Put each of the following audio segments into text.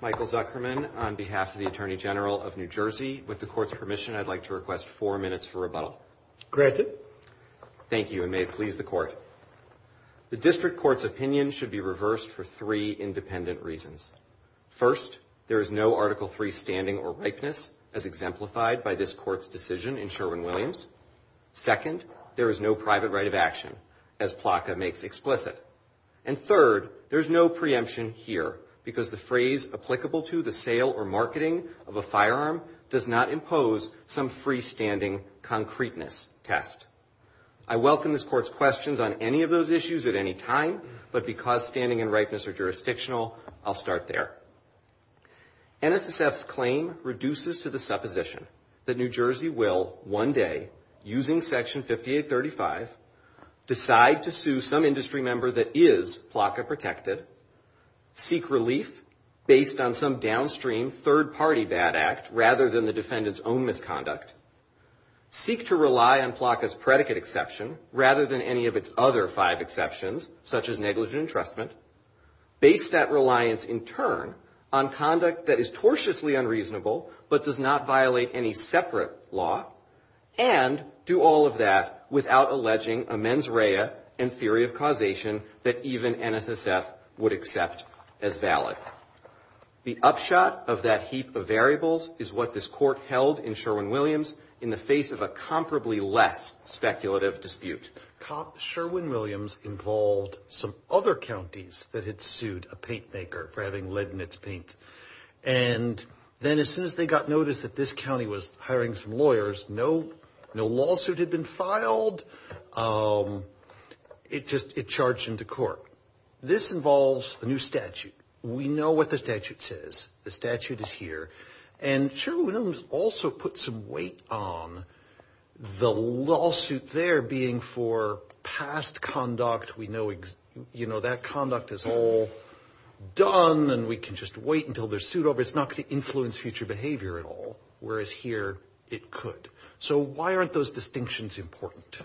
Michael Zuckerman, on behalf of the Attorney General of New Jersey, with the Court's permission I'd like to request four minutes for rebuttal. Granted. Thank you, and may it please the Court. The District Court's opinion should be reversed for three minutes. Three independent reasons. First, there is no Article III standing or rightness, as exemplified by this Court's decision in Sherwin-Williams. Second, there is no private right of action, as Plaka makes explicit. And third, there is no preemption here, because the phrase applicable to the sale or marketing of a firearm does not impose some free-standing concreteness test. I welcome this Court's questions on any of those issues at any time, but because standing and rightness are jurisdictional, I'll start there. NSSF's claim reduces to the supposition that New Jersey will, one day, using Section 5835, decide to sue some industry member that is Plaka-protected, seek relief based on some downstream third-party bad act rather than the defendant's own misconduct, seek to rely on Plaka's predicate exception rather than any of its other five exceptions, such as negligent entrustment, base that reliance, in turn, on conduct that is tortiously unreasonable but does not violate any separate law, and do all of that without alleging a mens rea and theory of causation that even NSSF would accept as valid. The upshot of that heap of variables is what this Court held in Sherwin-Williams in the face of a comparably less speculative dispute. Sherwin-Williams involved some other counties that had sued a paint maker for having lead in its paint. And then as soon as they got notice that this county was hiring some lawyers, no lawsuit had been filed. It just charged into court. So this involves a new statute. We know what the statute says. The statute is here. And Sherwin-Williams also put some weight on the lawsuit there being for past conduct. We know, you know, that conduct is all done and we can just wait until they're sued over. It's not going to influence future behavior at all, whereas here it could. So why aren't those distinctions important?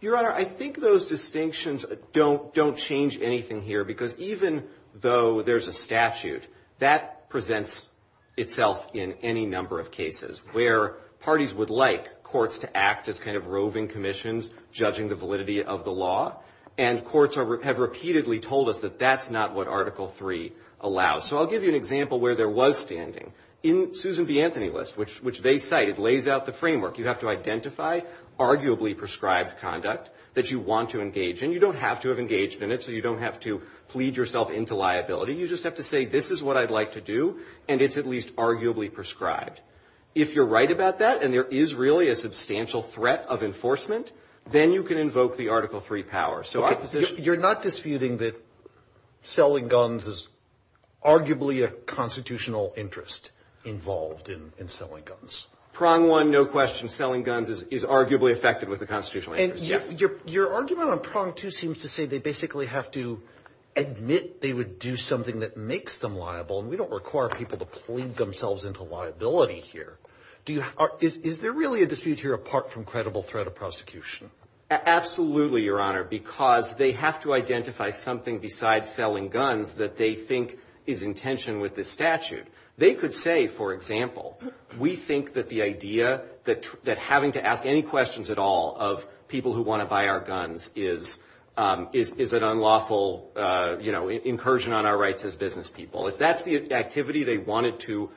Your Honor, I think those distinctions don't change anything here because even though there's a statute, that presents itself in any number of cases where parties would like courts to act as kind of roving commissions, judging the validity of the law. And courts have repeatedly told us that that's not what Article III allows. So I'll give you an example where there was standing. In Susan B. Anthony's list, which they cite, it lays out the framework. You have to identify arguably prescribed conduct that you want to engage in. You don't have to have engaged in it, so you don't have to plead yourself into liability. You just have to say, this is what I'd like to do, and it's at least arguably prescribed. If you're right about that and there is really a substantial threat of enforcement, then you can invoke the Article III power. You're not disputing that selling guns is arguably a constitutional interest involved in selling guns? Prong one, no question. Selling guns is arguably affected with a constitutional interest. Your argument on prong two seems to say they basically have to admit they would do something that makes them liable, and we don't require people to plead themselves into liability here. Is there really a dispute here apart from credible threat of prosecution? Absolutely, Your Honor, because they have to identify something besides selling guns that they think is in tension with the statute. They could say, for example, we think that the idea that having to ask any questions at all of people who want to buy our guns is an unlawful incursion on our rights as business people. If that's the activity they wanted to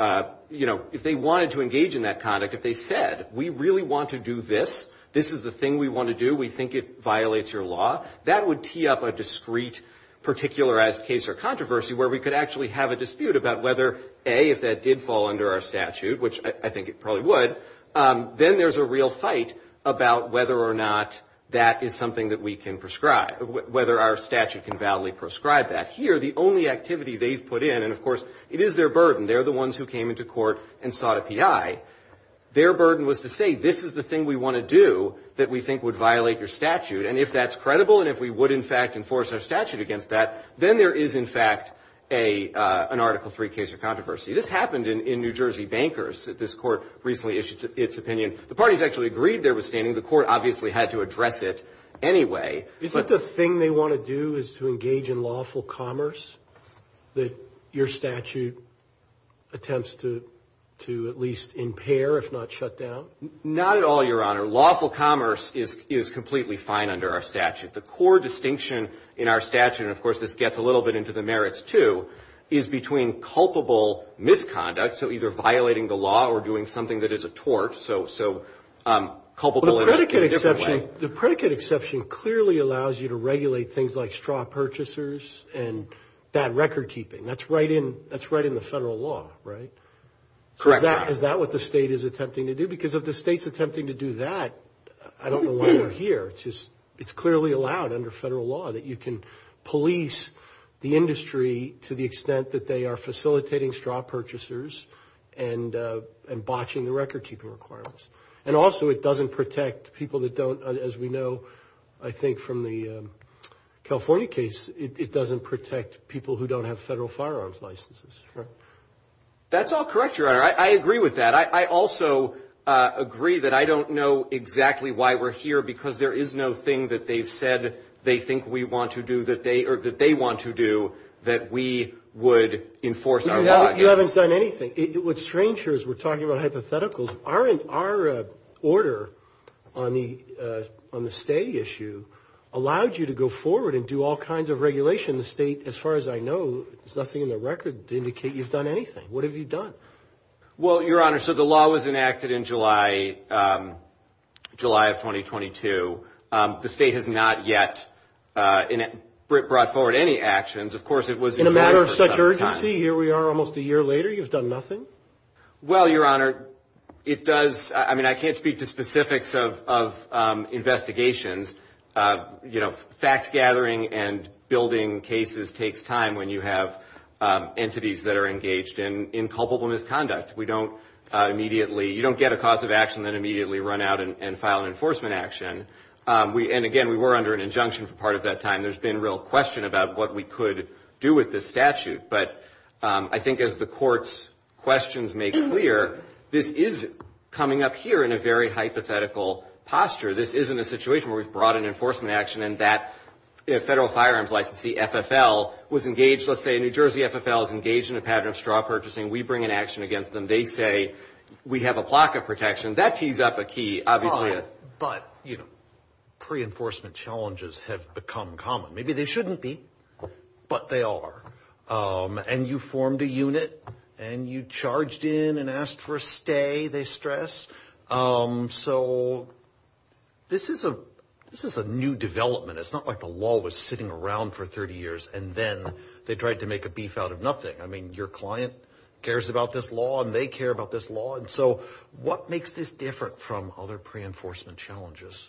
engage in that conduct, if they said, we really want to do this, this is the thing we want to do, we think it violates your law, that would tee up a discrete particularized case or controversy where we could actually have a dispute about whether, A, if that did fall under our statute, which I think it probably would, then there's a real fight about whether or not that is something that we can prescribe, whether our statute can validly prescribe that. Here, the only activity they've put in, and of course it is their burden, they're the ones who came into court and sought a PI, their burden was to say this is the thing we want to do that we think would violate your statute, and if that's credible and if we would, in fact, enforce our statute against that, then there is, in fact, an Article III case or controversy. This happened in New Jersey bankers. This court recently issued its opinion. The parties actually agreed there was standing. The court obviously had to address it anyway. Isn't the thing they want to do is to engage in lawful commerce that your statute attempts to at least impair if not shut down? Not at all, Your Honor. Lawful commerce is completely fine under our statute. The core distinction in our statute, and of course this gets a little bit into the merits too, is between culpable misconduct, so either violating the law or doing something that is a tort, so culpable in a different way. The predicate exception clearly allows you to regulate things like straw purchasers and bad record keeping. That's right in the federal law, right? Correct, Your Honor. Is that what the state is attempting to do? I think because of the state's attempting to do that, I don't know why we're here. It's clearly allowed under federal law that you can police the industry to the extent that they are facilitating straw purchasers and botching the record keeping requirements. And also it doesn't protect people that don't, as we know, I think from the California case, it doesn't protect people who don't have federal firearms licenses. That's all correct, Your Honor. I agree with that. I also agree that I don't know exactly why we're here because there is no thing that they've said they think we want to do, or that they want to do, that we would enforce our law against. You haven't done anything. What's strange here is we're talking about hypotheticals. Our order on the state issue allowed you to go forward and do all kinds of regulation. The state, as far as I know, there's nothing in the record to indicate you've done anything. What have you done? Well, Your Honor, so the law was enacted in July of 2022. The state has not yet brought forward any actions. In a matter of such urgency, here we are almost a year later, you've done nothing? Well, Your Honor, it does, I mean, I can't speak to specifics of investigations. You know, fact-gathering and building cases takes time when you have entities that are engaged in culpable misconduct. We don't immediately, you don't get a cause of action and then immediately run out and file an enforcement action. And again, we were under an injunction for part of that time. There's been real question about what we could do with this statute. But I think as the court's questions make clear, this is coming up here in a very hypothetical posture. This isn't a situation where we've brought an enforcement action and that federal firearms licensee, FFL, was engaged. Let's say New Jersey FFL is engaged in a pattern of straw purchasing. We bring an action against them. They say we have a block of protection. That keys up a key, obviously. But, you know, pre-enforcement challenges have become common. Maybe they shouldn't be, but they are. And you formed a unit and you charged in and asked for a stay, they stress. So this is a new development. It's not like the law was sitting around for 30 years and then they tried to make a beef out of nothing. I mean, your client cares about this law and they care about this law. And so what makes this different from other pre-enforcement challenges?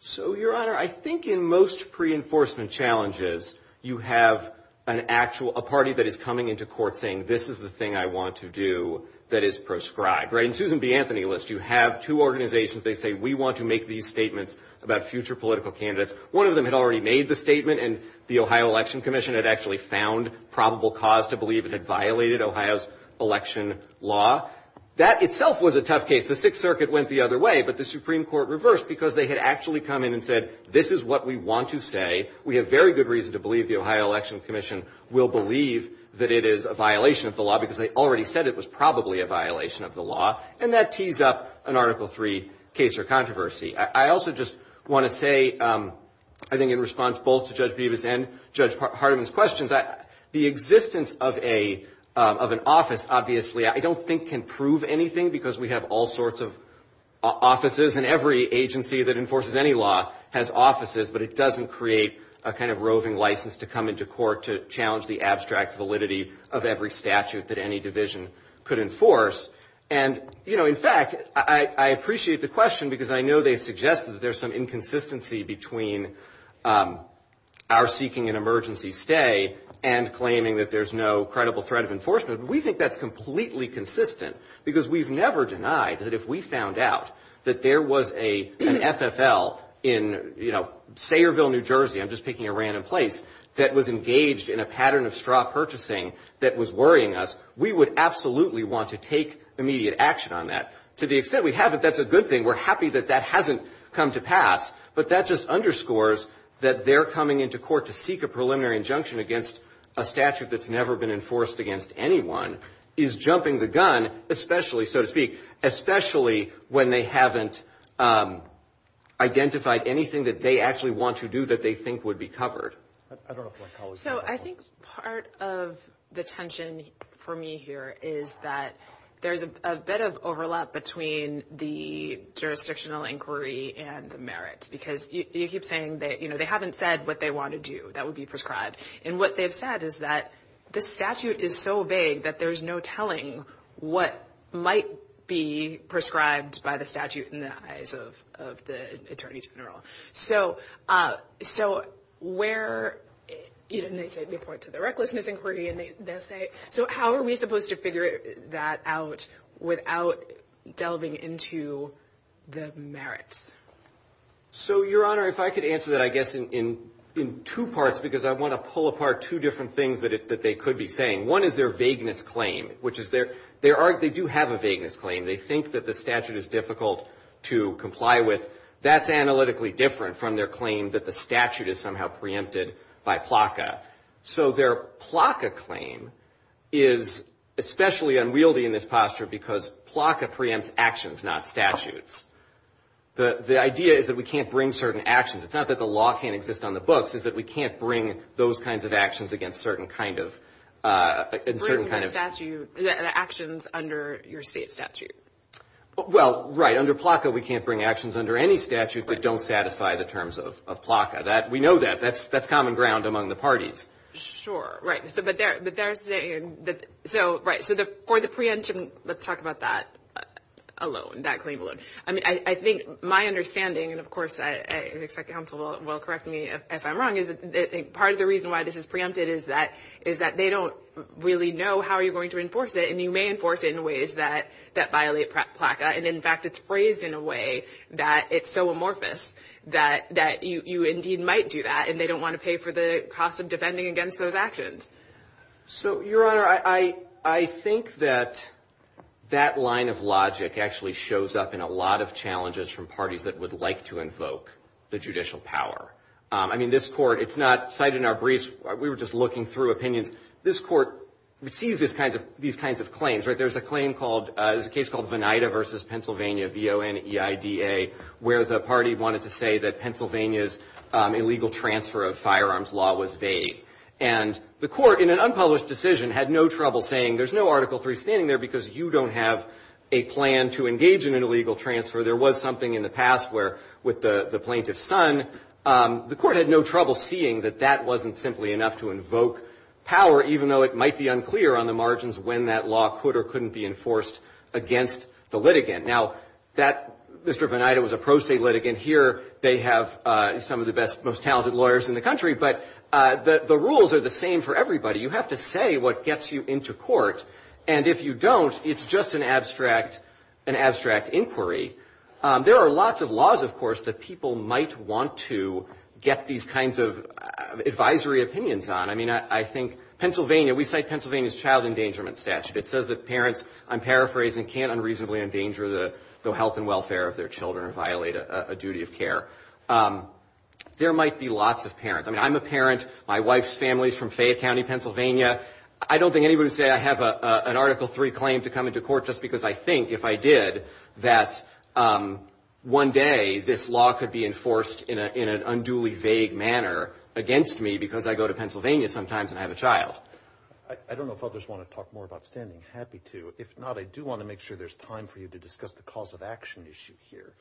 So, Your Honor, I think in most pre-enforcement challenges you have an actual, a party that is coming into court saying, this is the thing I want to do that is proscribed. In Susan B. Anthony's list, you have two organizations. They say, we want to make these statements about future political candidates. One of them had already made the statement, and the Ohio Election Commission had actually found probable cause to believe it had violated Ohio's election law. That itself was a tough case. The Sixth Circuit went the other way, but the Supreme Court reversed because they had actually come in and said, this is what we want to say. We have very good reason to believe the Ohio Election Commission will believe that it is a violation of the law because they already said it was probably a violation of the law. And that tees up an Article III case or controversy. I also just want to say, I think in response both to Judge Bevis and Judge Hardiman's questions, that the existence of an office, obviously, I don't think can prove anything because we have all sorts of offices, and every agency that enforces any law has offices, but it doesn't create a kind of roving license to come into court to challenge the abstract validity of every statute that any division could enforce. And, you know, in fact, I appreciate the question because I know they've suggested there's some inconsistency between our seeking an emergency stay and claiming that there's no credible threat of enforcement. We think that's completely consistent because we've never denied that if we found out that there was an FFL in, you know, Sayreville, New Jersey, I'm just picking a random place, that was engaged in a pattern of straw purchasing that was worrying us, we would absolutely want to take immediate action on that. To the extent we have it, that's a good thing. We're happy that that hasn't come to pass, but that just underscores that their coming into court to seek a preliminary injunction against a statute that's never been enforced against anyone is jumping the gun, especially, so to speak, especially when they haven't identified anything that they actually want to do that they think would be covered. So I think part of the tension for me here is that there's a bit of overlap between the jurisdictional inquiry and the merits because you keep saying that, you know, they haven't said what they want to do that would be prescribed. And what they've said is that the statute is so vague that there's no telling what might be prescribed by the statute in the eyes of the attorney general. So where, you know, they say report to the recklessness inquiry, and they say, so how are we supposed to figure that out without delving into the merits? So, Your Honor, if I could answer that, I guess, in two parts, because I want to pull apart two different things that they could be saying. One is their vagueness claim, which is they do have a vagueness claim. They think that the statute is difficult to comply with. That's analytically different from their claim that the statute is somehow preempted by PLCA. So their PLCA claim is especially unwieldy in this posture because PLCA preempts actions, not statutes. The idea is that we can't bring certain actions. It's not that the law can't exist on the books. It's that we can't bring those kinds of actions against certain kind of – Actions under your state statute. Well, right, under PLCA we can't bring actions under any statute that don't satisfy the terms of PLCA. We know that. That's common ground among the parties. Sure, right. So, right, for the preemption, let's talk about that alone, that claim alone. I mean, I think my understanding, and, of course, I expect counsel will correct me if I'm wrong, is I think part of the reason why this is preempted is that they don't really know how you're going to enforce it, and you may enforce it in ways that violate PLCA. And, in fact, it's phrased in a way that it's so amorphous that you indeed might do that, and they don't want to pay for the cost of defending against those actions. So, Your Honor, I think that that line of logic actually shows up in a lot of challenges from parties that would like to invoke the judicial power. I mean, this court, it's not cited in our briefs. We were just looking through opinions. This court receives these kinds of claims. There's a claim called, it's a case called Vinida versus Pennsylvania, V-O-N-E-I-D-A, where the party wanted to say that Pennsylvania's illegal transfer of firearms law was vague. And the court, in an unpublished decision, had no trouble saying, there's no Article III standing there because you don't have a plan to engage in an illegal transfer. There was something in the past where, with the plaintiff's son, the court had no trouble seeing that that wasn't simply enough to invoke power, even though it might be unclear on the margins when that law could or couldn't be enforced against the litigant. Now, Mr. Vinida was a pro se litigant. Here they have some of the best, most talented lawyers in the country. But the rules are the same for everybody. You have to say what gets you into court. And if you don't, it's just an abstract inquiry. There are lots of laws, of course, that people might want to get these kinds of advisory opinions on. I mean, I think Pennsylvania, we cite Pennsylvania's child endangerment statute. It says that parents, I'm paraphrasing, can't unreasonably endanger the health and welfare of their children and violate a duty of care. There might be lots of parents. I mean, I'm a parent. My wife's family is from Fayette County, Pennsylvania. I don't think anybody would say I have an Article III claim to come into court just because I think, if I did, that one day this law could be enforced in an unduly vague manner against me because I go to Pennsylvania sometimes and have a child. I don't know if others want to talk more about standing. Happy to. If not, I do want to make sure there's time for you to discuss the cause of action issue here.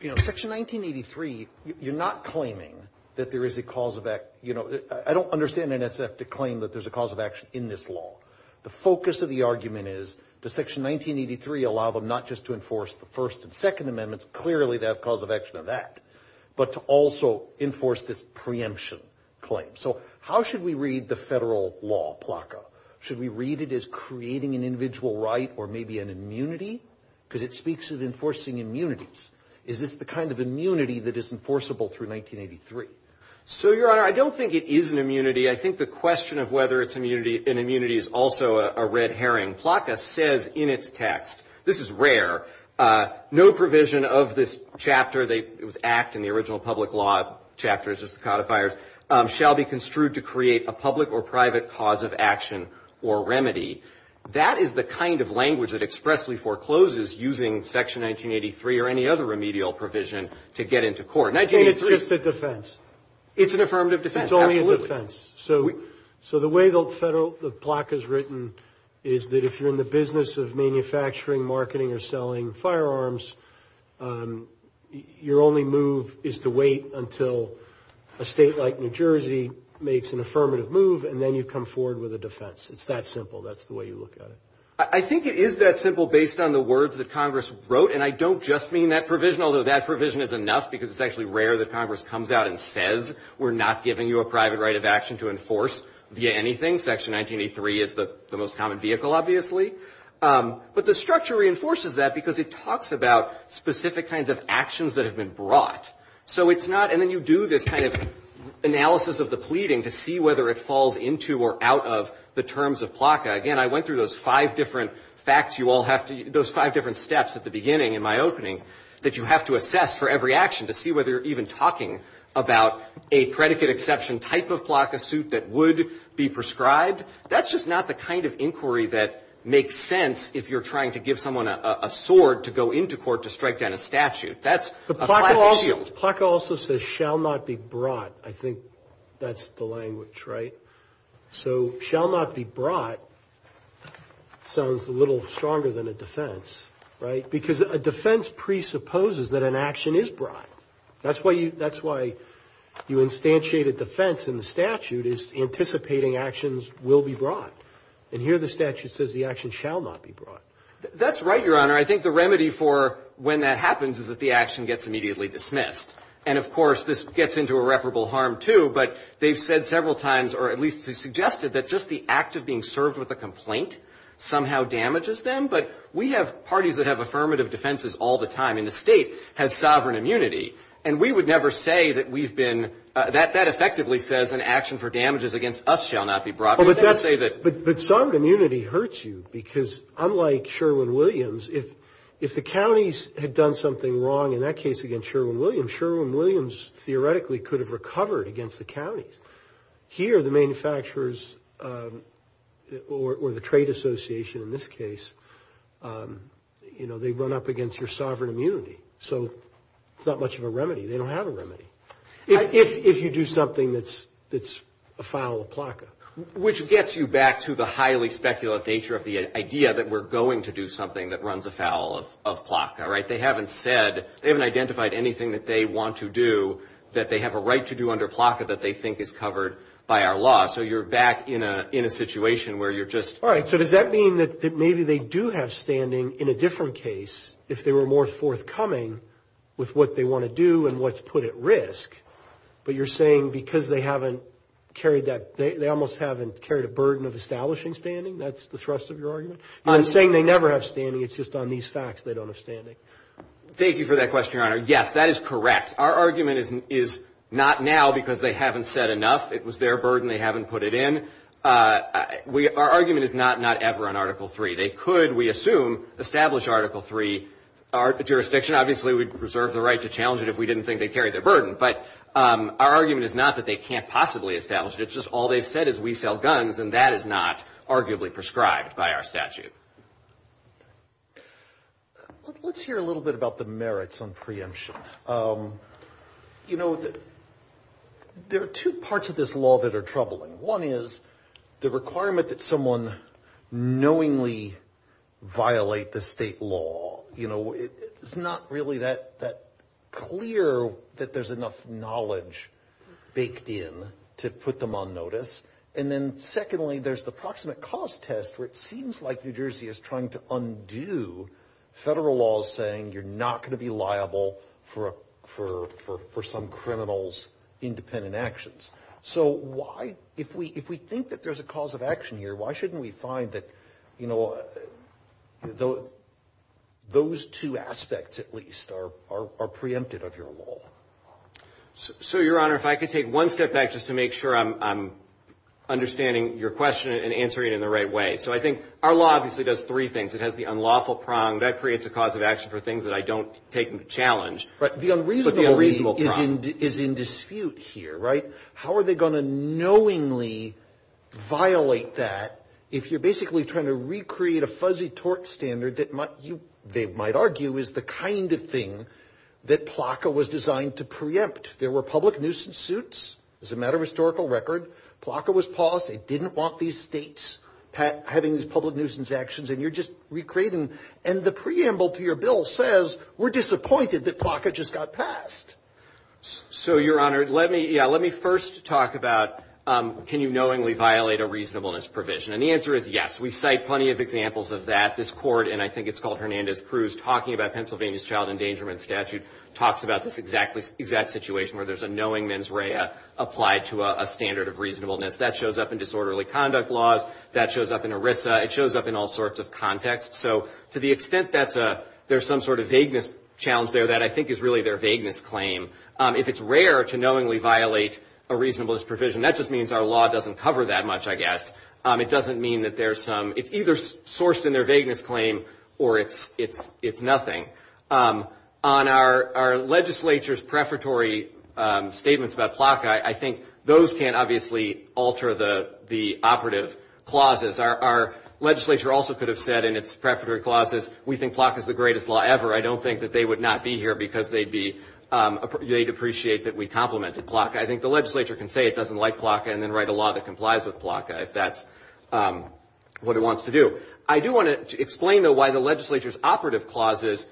Section 1983, you're not claiming that there is a cause of – I don't understand NSF to claim that there's a cause of action in this law. The focus of the argument is does Section 1983 allow them not just to enforce the First and Second Amendments, clearly they have cause of action of that, but to also enforce this preemption claim. So how should we read the federal law, PLACA? Should we read it as creating an individual right or maybe an immunity? Because it speaks of enforcing immunities. Is this the kind of immunity that is enforceable through 1983? I think the question of whether it's an immunity is also a red herring. PLACA says in its text – this is rare – no provision of this chapter, the Act and the original public law chapters, shall be construed to create a public or private cause of action or remedy. That is the kind of language that expressly forecloses using Section 1983 or any other remedial provision to get into court. It's an affirmative defense. It's only a defense. So the way the PLACA is written is that if you're in the business of manufacturing, marketing, or selling firearms, your only move is to wait until a state like New Jersey makes an affirmative move and then you come forward with a defense. It's that simple. That's the way you look at it. I think it is that simple based on the words that Congress wrote, and I don't just mean that provision, although that provision is enough because it's actually rare that Congress comes out and says, we're not giving you a private right of action to enforce via anything. Section 1983 is the most common vehicle, obviously. But the structure reinforces that because it talks about specific kinds of actions that have been brought. So it's not – and then you do this kind of analysis of the pleading to see whether it falls into or out of the terms of PLACA. Again, I went through those five different steps at the beginning in my opening that you have to assess for every action to see whether you're even talking about a predicate exception type of PLACA suit that would be prescribed. That's just not the kind of inquiry that makes sense if you're trying to give someone a sword to go into court to strike down a statute. That's a classic shield. The PLACA also says shall not be brought. I think that's the language, right? So shall not be brought sounds a little stronger than a defense, right? Because a defense presupposes that an action is brought. That's why you instantiated defense in the statute is anticipating actions will be brought. And here the statute says the action shall not be brought. That's right, Your Honor. I think the remedy for when that happens is that the action gets immediately dismissed. And, of course, this gets into irreparable harm too, but they've said several times or at least they've suggested that just the act of being served with a complaint somehow damages them. But we have parties that have affirmative defenses all the time. And the state has sovereign immunity. And we would never say that we've been – that effectively says an action for damages against us shall not be brought. But sovereign immunity hurts you because unlike Sherwin-Williams, if the counties had done something wrong in that case against Sherwin-Williams, here the manufacturers or the trade association in this case, they run up against your sovereign immunity. So it's not much of a remedy. They don't have a remedy if you do something that's a foul of PLCA. Which gets you back to the highly speculative nature of the idea that we're going to do something that runs afoul of PLCA, right? They haven't said – they haven't identified anything that they want to do that they have a right to do under PLCA that they think is covered by our law. So you're back in a situation where you're just – All right. So does that mean that maybe they do have standing in a different case if they were more forthcoming with what they want to do and what's put at risk? But you're saying because they haven't carried that – they almost haven't carried a burden of establishing standing? That's the thrust of your argument? I'm saying they never have standing. It's just on these facts they don't have standing. Thank you for that question, Your Honor. Yes, that is correct. Our argument is not now because they haven't said enough. It was their burden. They haven't put it in. Our argument is not not ever on Article III. They could, we assume, establish Article III. Our jurisdiction obviously would preserve the right to challenge it if we didn't think they carried the burden. But our argument is not that they can't possibly establish it. It's just all they've said is we sell guns, and that is not arguably prescribed by our statute. Let's hear a little bit about the merits on preemption. You know, there are two parts of this law that are troubling. One is the requirement that someone knowingly violate the state law. You know, it's not really that clear that there's enough knowledge baked in to put them on notice. And then secondly, there's the proximate cause test, where it seems like New Jersey is trying to undo federal law saying you're not going to be liable for some criminal's independent actions. So why, if we think that there's a cause of action here, why shouldn't we find that, you know, those two aspects at least are preempted of your law? So, Your Honor, if I could take one step back just to make sure I'm understanding your question and answering it in the right way. So I think our law obviously does three things. It has the unlawful prong. That creates a cause of action for things that I don't take into challenge. But the unreasonable prong is in dispute here, right? How are they going to knowingly violate that if you're basically trying to recreate a fuzzy tort standard that they might argue is the kind of thing that PLACA was designed to preempt? There were public nuisance suits, as a matter of historical record. PLACA was paused. They didn't want these states having these public nuisance actions. And you're just recreating. And the preamble to your bill says we're disappointed that PLACA just got passed. So, Your Honor, let me first talk about can you knowingly violate a reasonableness provision. And the answer is yes. We cite plenty of examples of that. This court, and I think it's called Hernandez-Cruz, talking about Pennsylvania's child endangerment statute, talks about this exact situation where there's a knowing mens rea applied to a standard of reasonableness. That shows up in disorderly conduct laws. That shows up in ERISA. It shows up in all sorts of contexts. So to the extent that there's some sort of vagueness challenge there, that I think is really their vagueness claim. If it's rare to knowingly violate a reasonableness provision, that just means our law doesn't cover that much, I guess. It doesn't mean that there's some – it's either sourced in their vagueness claim or it's nothing. On our legislature's preparatory statements about PLACA, I think those can't obviously alter the operative clauses. Our legislature also could have said in its preparatory clauses, we think PLACA is the greatest law ever. I don't think that they would not be here because they'd appreciate that we complimented PLACA. I think the legislature can say it doesn't like PLACA and then write a law that complies with PLACA if that's what it wants to do. I do want to explain, though, why the legislature's operative clauses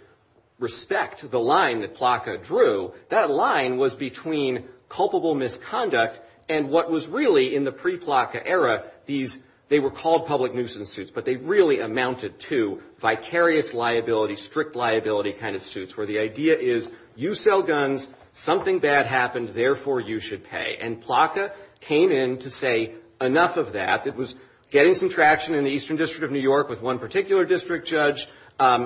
respect the line that PLACA drew. That line was between culpable misconduct and what was really, in the pre-PLACA era, these – they were called public nuisance suits, but they really amounted to vicarious liability, strict liability kind of suits, where the idea is you sell guns, something bad happens, therefore you should pay. And PLACA came in to say enough of that. It was getting some traction in the Eastern District of New York with one particular district judge.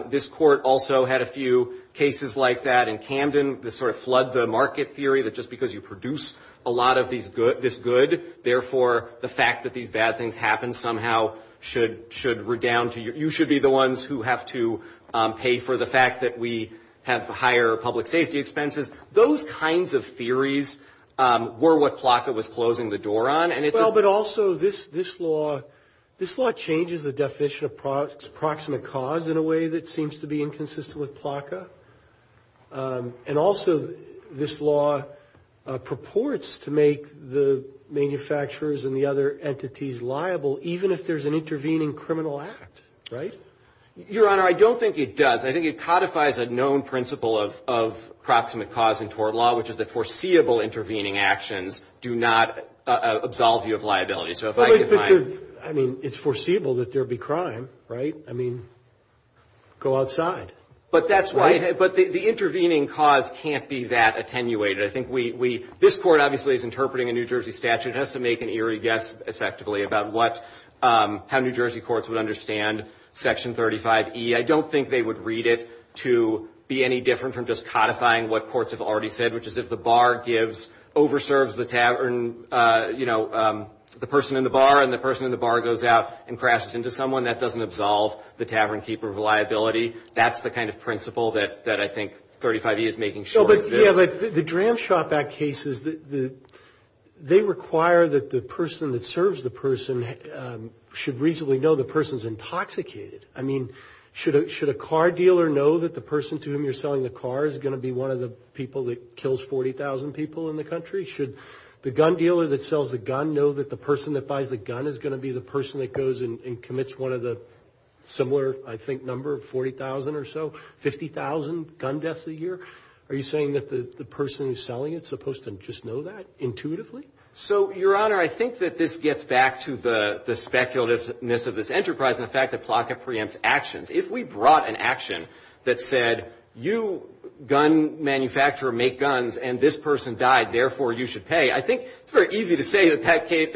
This court also had a few cases like that in Camden that sort of flood the market theory that just because you produce a lot of this good, therefore the fact that these bad things happen somehow should – you should be the ones who have to pay for the fact that we have higher public safety expenses. Those kinds of theories were what PLACA was closing the door on. Well, but also this law changes the definition of proximate cause in a way that seems to be inconsistent with PLACA. And also this law purports to make the manufacturers and the other entities liable even if there's an intervening criminal act, right? Your Honor, I don't think it does. I think it codifies a known principle of proximate cause in tort law, which is that foreseeable intervening actions do not absolve you of liability. I mean, it's foreseeable that there would be crime, right? I mean, go outside. But that's why – but the intervening cause can't be that attenuated. I think we – this court obviously is interpreting a New Jersey statute. It has to make an eerie guess, effectively, about what – how New Jersey courts would understand Section 35E. I don't think they would read it to be any different from just codifying what courts have already said, which is if the bar gives – overserves the tavern – you know, the person in the bar, and the person in the bar goes out and crashes into someone, that doesn't absolve the tavernkeeper of liability. That's the kind of principle that I think 35E is making short. Yeah, but the Dram Shop Act cases, they require that the person that serves the person should reasonably know the person's intoxicated. I mean, should a car dealer know that the person to whom you're selling the car is going to be one of the people that kills 40,000 people in the country? Should the gun dealer that sells the gun know that the person that buys the gun is going to be the person that goes and commits one of the similar, I think, number of 40,000 or so, 50,000 gun deaths a year? Are you saying that the person who's selling it is supposed to just know that intuitively? So, Your Honor, I think that this gets back to the speculativeness of this enterprise and the fact that PLCA preempts actions. If we brought an action that said, you, gun manufacturer, make guns, and this person died, therefore you should pay, I think it's very easy to say that that case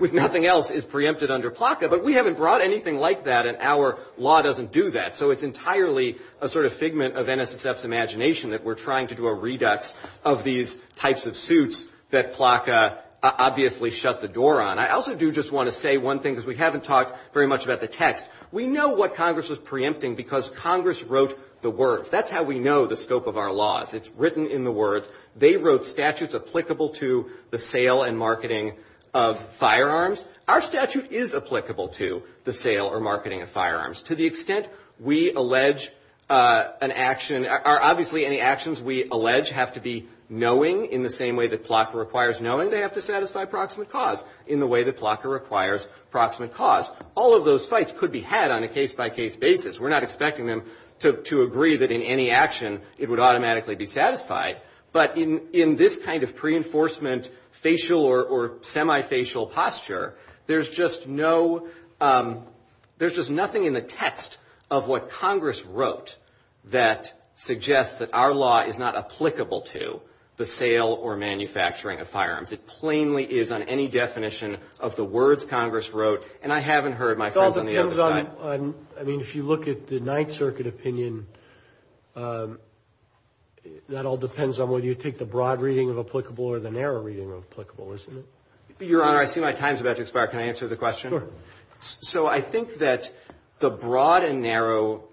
with nothing else is preempted under PLCA, but we haven't brought anything like that and our law doesn't do that. So, it's entirely a sort of figment of NSSF's imagination that we're trying to do a redux of these types of suits that PLCA obviously shut the door on. I also do just want to say one thing because we haven't talked very much about the text. We know what Congress is preempting because Congress wrote the words. That's how we know the scope of our laws. It's written in the words. They wrote statutes applicable to the sale and marketing of firearms. Our statute is applicable to the sale or marketing of firearms. To the extent we allege an action or obviously any actions we allege have to be knowing in the same way that PLCA requires knowing, they have to satisfy proximate cause in the way that PLCA requires proximate cause. All of those fights could be had on a case-by-case basis. We're not expecting them to agree that in any action it would automatically be satisfied, but in this kind of pre-enforcement facial or semi-facial posture, there's just nothing in the text of what Congress wrote that suggests that our law is not applicable to the sale or manufacturing of firearms. It plainly is on any definition of the words Congress wrote and I haven't heard my friends on the other side. I mean, if you look at the Ninth Circuit opinion, that all depends on whether you take the broad reading of applicable or the narrow reading of applicable, isn't it? Your Honor, I see my time's about to expire. Can I answer the question? Sure. So I think that the broad and narrow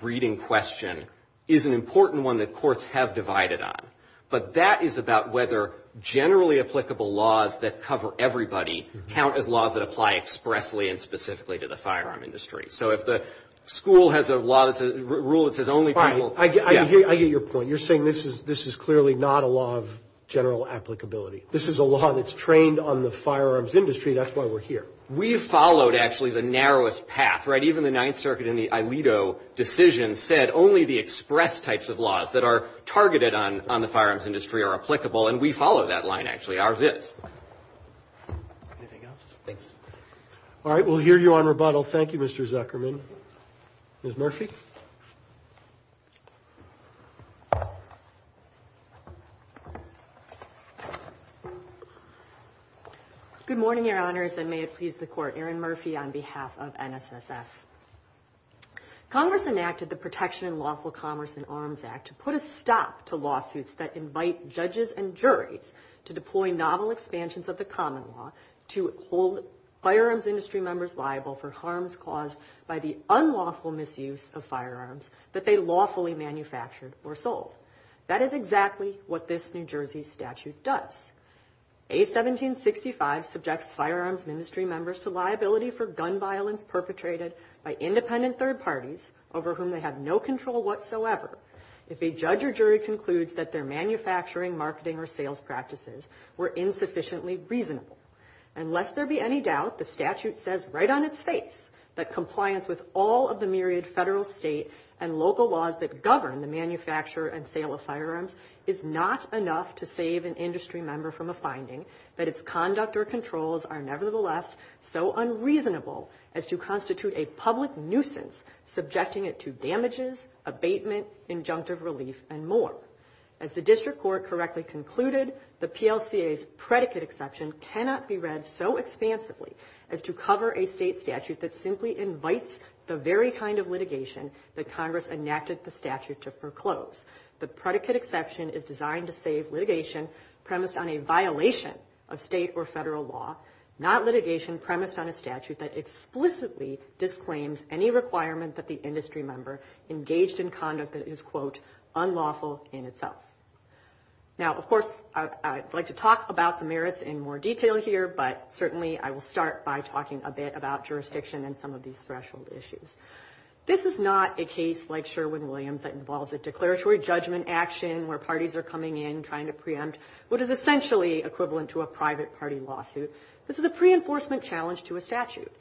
reading question is an important one that courts have divided on, but that is about whether generally applicable laws that cover everybody count as laws that apply expressly and specifically to the firearm industry. So if the school has a rule that says only people... I get your point. You're saying this is clearly not a law of general applicability. This is a law that's trained on the firearms industry. That's why we're here. We followed, actually, the narrowest path, right? And we follow that line, actually, our viz. Anything else? Thanks. All right. We'll hear you on rebuttal. Thank you, Mr. Zuckerman. Ms. Murphy? Good morning, Your Honors, and may it please the Court. Erin Murphy on behalf of NSSF. Congress enacted the Protection in Lawful Commerce and Arms Act to put a stop to lawsuits that invite judges and juries to deploy novel expansions of the common law to hold firearms industry members liable for harms caused by the unlawful misuse of firearms that they lawfully manufactured or sold. That is exactly what this New Jersey statute does. A. 1765 subjects firearms industry members to liability for gun violence perpetrated by independent third parties over whom they have no control whatsoever if a judge or jury concludes that their manufacturing, marketing, or sales practices were insufficiently reasonable. And lest there be any doubt, the statute says right on its face that compliance with all of the myriad federal, state, and local laws that govern the manufacture and sale of firearms is not enough to save an industry member from a finding that its conduct or controls are nevertheless so unreasonable as to constitute a public nuisance subjecting it to damages, abatement, injunctive relief, and more. As the District Court correctly concluded, the PLCA's predicate exception cannot be read so expansively as to cover a state statute that simply invites the very kind of litigation that Congress enacted the statute to foreclose. The predicate exception is designed to save litigation premised on a violation of state or federal law, not litigation premised on a statute that explicitly disclaims any requirement that the industry member engaged in conduct that is, quote, unlawful in itself. Now, of course, I'd like to talk about the merits in more detail here, but certainly I will start by talking a bit about jurisdiction and some of these threshold issues. This is not a case like Sherwin-Williams that involves a declaratory judgment action where parties are coming in trying to preempt what is essentially equivalent to a private party lawsuit. This is a pre-enforcement challenge to a statute.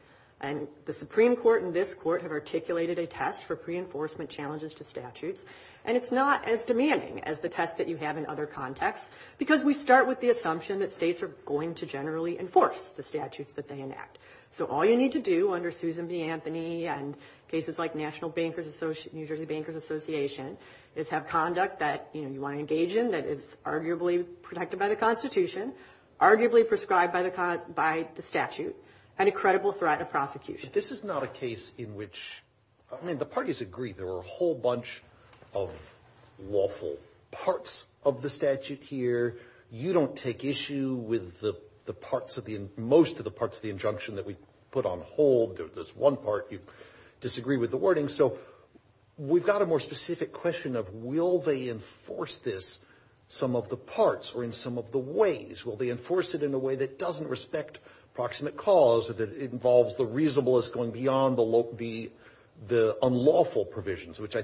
And the Supreme Court and this court have articulated a text for pre-enforcement challenges to statutes, and it's not as demanding as the test that you have in other contexts because we start with the assumption that states are going to generally enforce the statutes that they enact. So all you need to do under Susan B. Anthony and cases like New Jersey Bankers Association is have conduct that you want to engage in that is arguably protected by the Constitution, arguably prescribed by the statute, and a credible threat of prosecution. This is not a case in which, I mean, the parties agree there are a whole bunch of lawful parts of the statute here. You don't take issue with most of the parts of the injunction that we put on hold. There's one part you disagree with the wording. So we've got a more specific question of will they enforce this, some of the parts or in some of the ways. Will they enforce it in a way that doesn't respect proximate cause, that involves the reasonableness going beyond the unlawful provisions, which I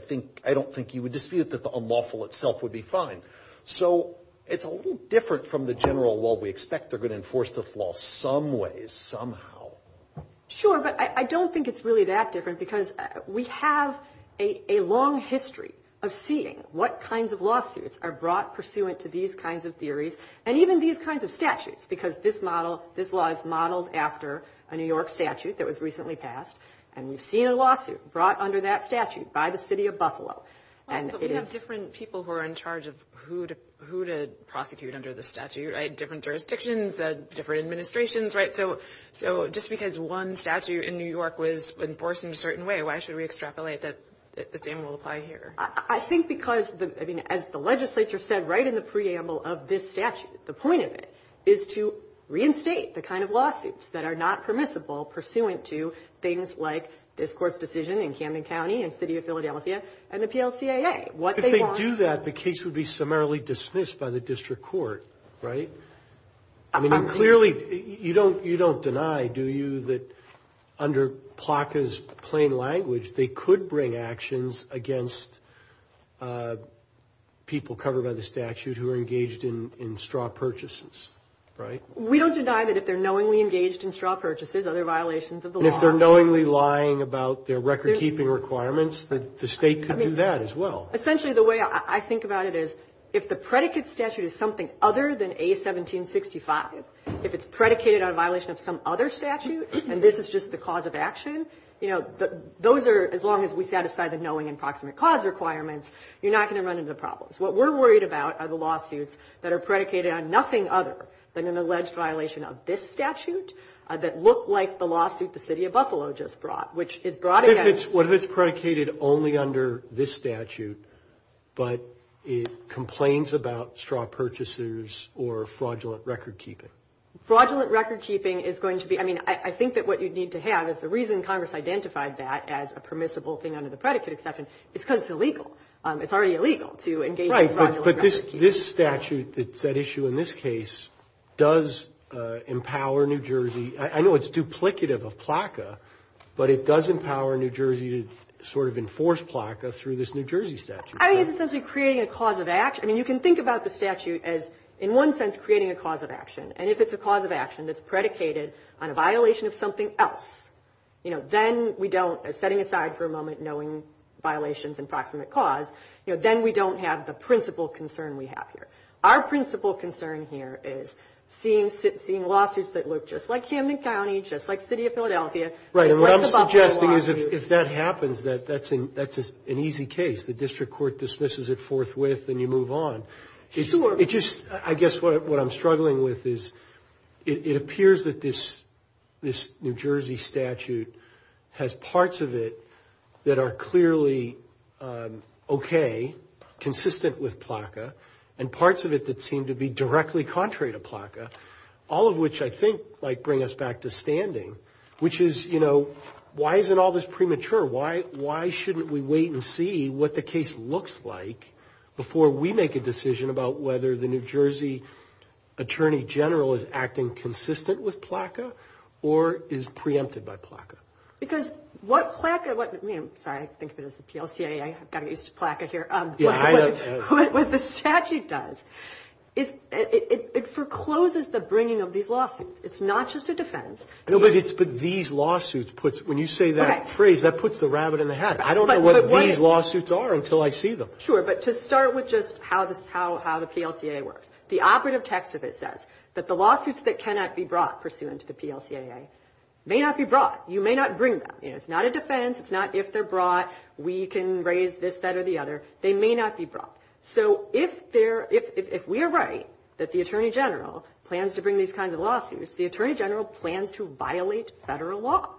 don't think you would dispute that the unlawful itself would be fine. So it's a little different from the general, well, we expect they're going to enforce this law some way, somehow. Sure, but I don't think it's really that different because we have a long history of seeing what kinds of lawsuits are brought pursuant to these kinds of theories. And even these kinds of statutes because this model, this law is modeled after a New York statute that was recently passed. And we've seen a lawsuit brought under that statute by the city of Buffalo. So we have different people who are in charge of who to prosecute under the statute, right? Different jurisdictions, different administrations, right? So just because one statute in New York was enforced in a certain way, why should we extrapolate that the same rule apply here? I think because, I mean, as the legislature said right in the preamble of this statute, the point of it is to reinstate the kind of lawsuits that are not permissible pursuant to things like this court's decision in Camden County and the city of Philadelphia and the PLCAA. If they do that, the case would be summarily dismissed by the district court, right? I mean, clearly, you don't deny, do you, that under PLACA's plain language, they could bring actions against people covered by the statute who are engaged in straw purchases, right? We don't deny that if they're knowingly engaged in straw purchases, other violations of the law. If they're knowingly lying about their record-keeping requirements, the state could do that as well. Essentially, the way I think about it is if the predicate statute is something other than A1765, if it's predicated on a violation of some other statute and this is just the cause of action, you know, those are, as long as we satisfy the knowing and approximate cause requirements, you're not going to run into problems. What we're worried about are the lawsuits that are predicated on nothing other than an alleged violation of this statute that look like the lawsuit the city of Buffalo just brought, which is brought against- If it's predicated only under this statute, but it complains about straw purchases or fraudulent record-keeping. Fraudulent record-keeping is going to be, I mean, I think that what you'd need to have is the reason Congress identified that as a permissible thing under the predicate exception is because it's illegal. It's already illegal to engage in fraudulent record-keeping. Right, but this statute, that issue in this case, does empower New Jersey. I know it's duplicative of PLACA, but it does empower New Jersey to sort of enforce PLACA through this New Jersey statute. I mean, it's essentially creating a cause of action. I mean, you can think about the statute as, in one sense, creating a cause of action, and if it's a cause of action that's predicated on a violation of something else, then we don't, setting aside for a moment knowing violations and proximate cause, then we don't have the principal concern we have here. Our principal concern here is seeing lawsuits that look just like Hamden County, just like the city of Philadelphia. Right, and what I'm suggesting is if that happens, that's an easy case. The district court dismisses it forthwith and you move on. I guess what I'm struggling with is it appears that this New Jersey statute has parts of it that are clearly okay, consistent with PLACA, and parts of it that seem to be directly contrary to PLACA, all of which I think might bring us back to standing, which is, you know, why isn't all this premature? Why shouldn't we wait and see what the case looks like before we make a decision about whether the New Jersey attorney general is acting consistent with PLACA or is preempted by PLACA? Because what PLACA, sorry, I think of it as the PLCA, I got used to PLACA here, what the statute does, it forecloses the bringing of these lawsuits. It's not just a defense. These lawsuits, when you say that phrase, that puts the rabbit in the hat. I don't know what these lawsuits are until I see them. Sure, but to start with just how the PLCA works, the operative text of it says that the lawsuits that cannot be brought pursuant to the PLCAA may not be brought. You may not bring them. It's not a defense. It's not if they're brought, we can raise this, that, or the other. They may not be brought. So if we are right that the attorney general plans to bring these kinds of lawsuits, the attorney general plans to violate federal law.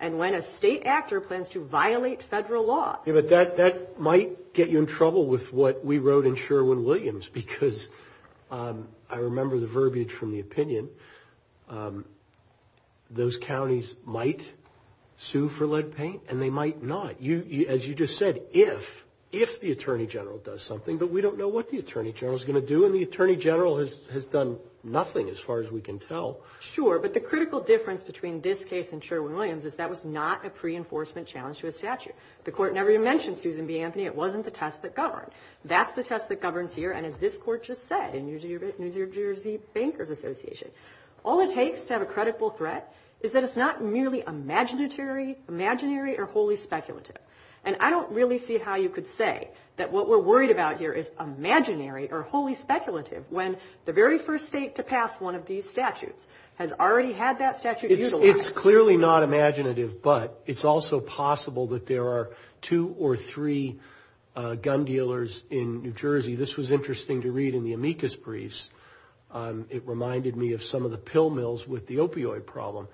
And when a state actor plans to violate federal law. Yeah, but that might get you in trouble with what we wrote in Sherwin-Williams, because I remember the verbiage from the opinion, those counties might sue for lead paint and they might not. As you just said, if the attorney general does something, but we don't know what the attorney general is going to do, and the attorney general has done nothing as far as we can tell. Sure, but the critical difference between this case and Sherwin-Williams is that was not a pre-enforcement challenge to a statute. The court never even mentioned Susan B. Anthony. It wasn't the test that governed. That's the test that governs here, and as this court just said, New Jersey Bankers Association, All it takes to have a credible threat is that it's not merely imaginary or wholly speculative. And I don't really see how you could say that what we're worried about here is imaginary or wholly speculative when the very first state to pass one of these statutes has already had that statute used. It's clearly not imaginative, but it's also possible that there are two or three gun dealers in New Jersey. This was interesting to read in the amicus briefs. It reminded me of some of the pill mills with the opioid problem.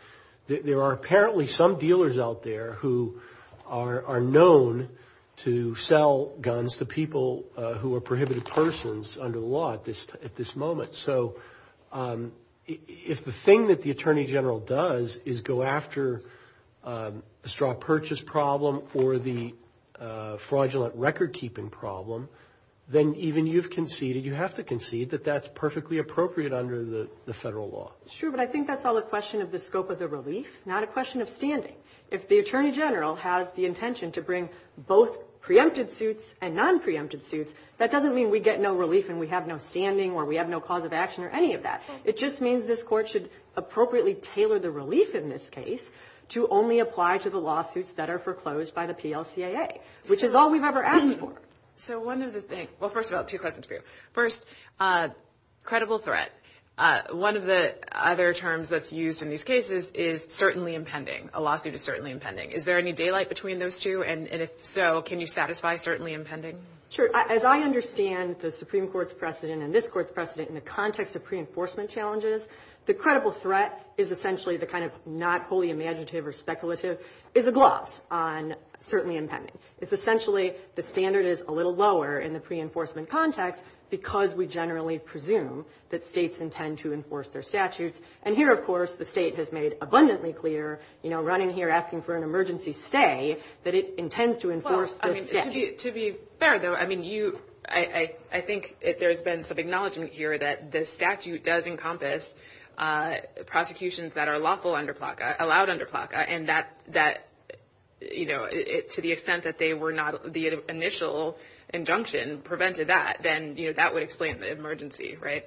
There are apparently some dealers out there who are known to sell guns to people who are prohibited persons under the law at this moment. So if the thing that the attorney general does is go after the straw purchase problem or the fraudulent record-keeping problem, then even you've conceded, you have to concede, that that's perfectly appropriate under the federal law. It's true, but I think that's all a question of the scope of the relief, not a question of standing. If the attorney general has the intention to bring both preempted suits and non-preempted suits, that doesn't mean we get no relief and we have no standing or we have no cause of action or any of that. It just means this court should appropriately tailor the relief in this case to only apply to the lawsuits that are foreclosed by the PLCAA, which is all we've ever asked for. So one of the things – well, first of all, two questions for you. First, credible threat. One of the other terms that's used in these cases is certainly impending. A lawsuit is certainly impending. Is there any daylight between those two, and if so, can you satisfy certainly impending? Sure. As I understand the Supreme Court's precedent and this court's precedent in the context of pre-enforcement challenges, the credible threat is essentially the kind of not wholly imaginative or speculative is a gloss on certainly impending. It's essentially the standard is a little lower in the pre-enforcement context because we generally presume that states intend to enforce their statutes. And here, of course, the state has made abundantly clear, you know, running here asking for an emergency stay, that it intends to enforce the statute. To be fair, though, I mean, you – I think there's been some acknowledgement here that the statute does encompass prosecutions that are lawful under PLCAA, allowed under PLCAA, and that, you know, to the extent that they were not – the initial injunction prevented that, then, you know, that would explain the emergency, right?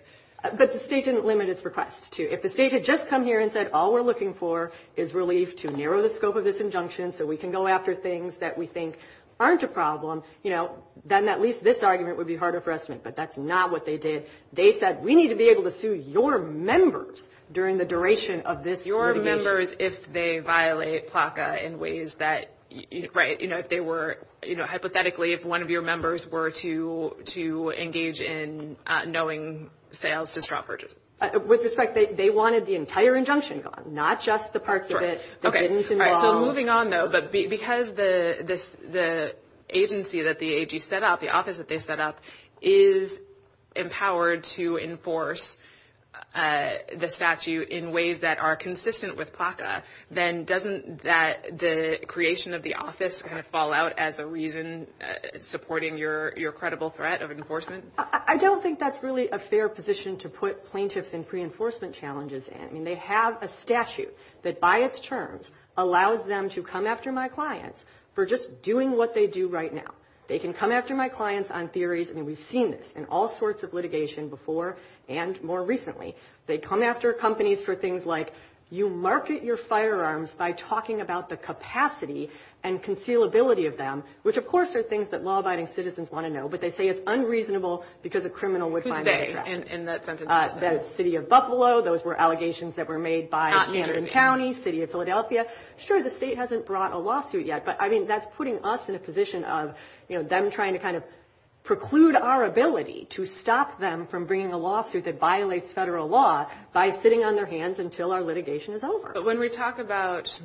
But the state didn't limit its request. If the state had just come here and said all we're looking for is relief to narrow the scope of this injunction so we can go after things that we think aren't a problem, you know, then at least this argument would be harder for us to make. But that's not what they did. They said we need to be able to sue your members during the duration of this hearing. Your members if they violate PLCAA in ways that – right, you know, if they were – you know, hypothetically, if one of your members were to engage in knowing sales to straw purchase. With respect, they wanted the entire injunction gone, not just the parts of it that didn't involve – So moving on, though, because the agency that the AG set up, the office that they set up, is empowered to enforce the statute in ways that are consistent with PLCAA, then doesn't that – the creation of the office kind of fall out as a reason supporting your credible threat of enforcement? I don't think that's really a fair position to put plaintiffs in pre-enforcement challenges in. I mean, they have a statute that by its terms allows them to come after my clients for just doing what they do right now. They can come after my clients on theories, and we've seen this in all sorts of litigation before and more recently. They come after companies for things like you market your firearms by talking about the capacity and concealability of them, which of course are things that law-abiding citizens want to know, but they say it's unreasonable because a criminal would find that attractive. Who's they in that sentence? The city of Buffalo, those were allegations that were made by Camden County, city of Philadelphia. Sure, the state hasn't brought a lawsuit yet, but I mean that's putting us in a position of them trying to kind of preclude our ability to stop them from bringing a lawsuit that violates federal law by sitting on their hands until our litigation is over. But when we talk about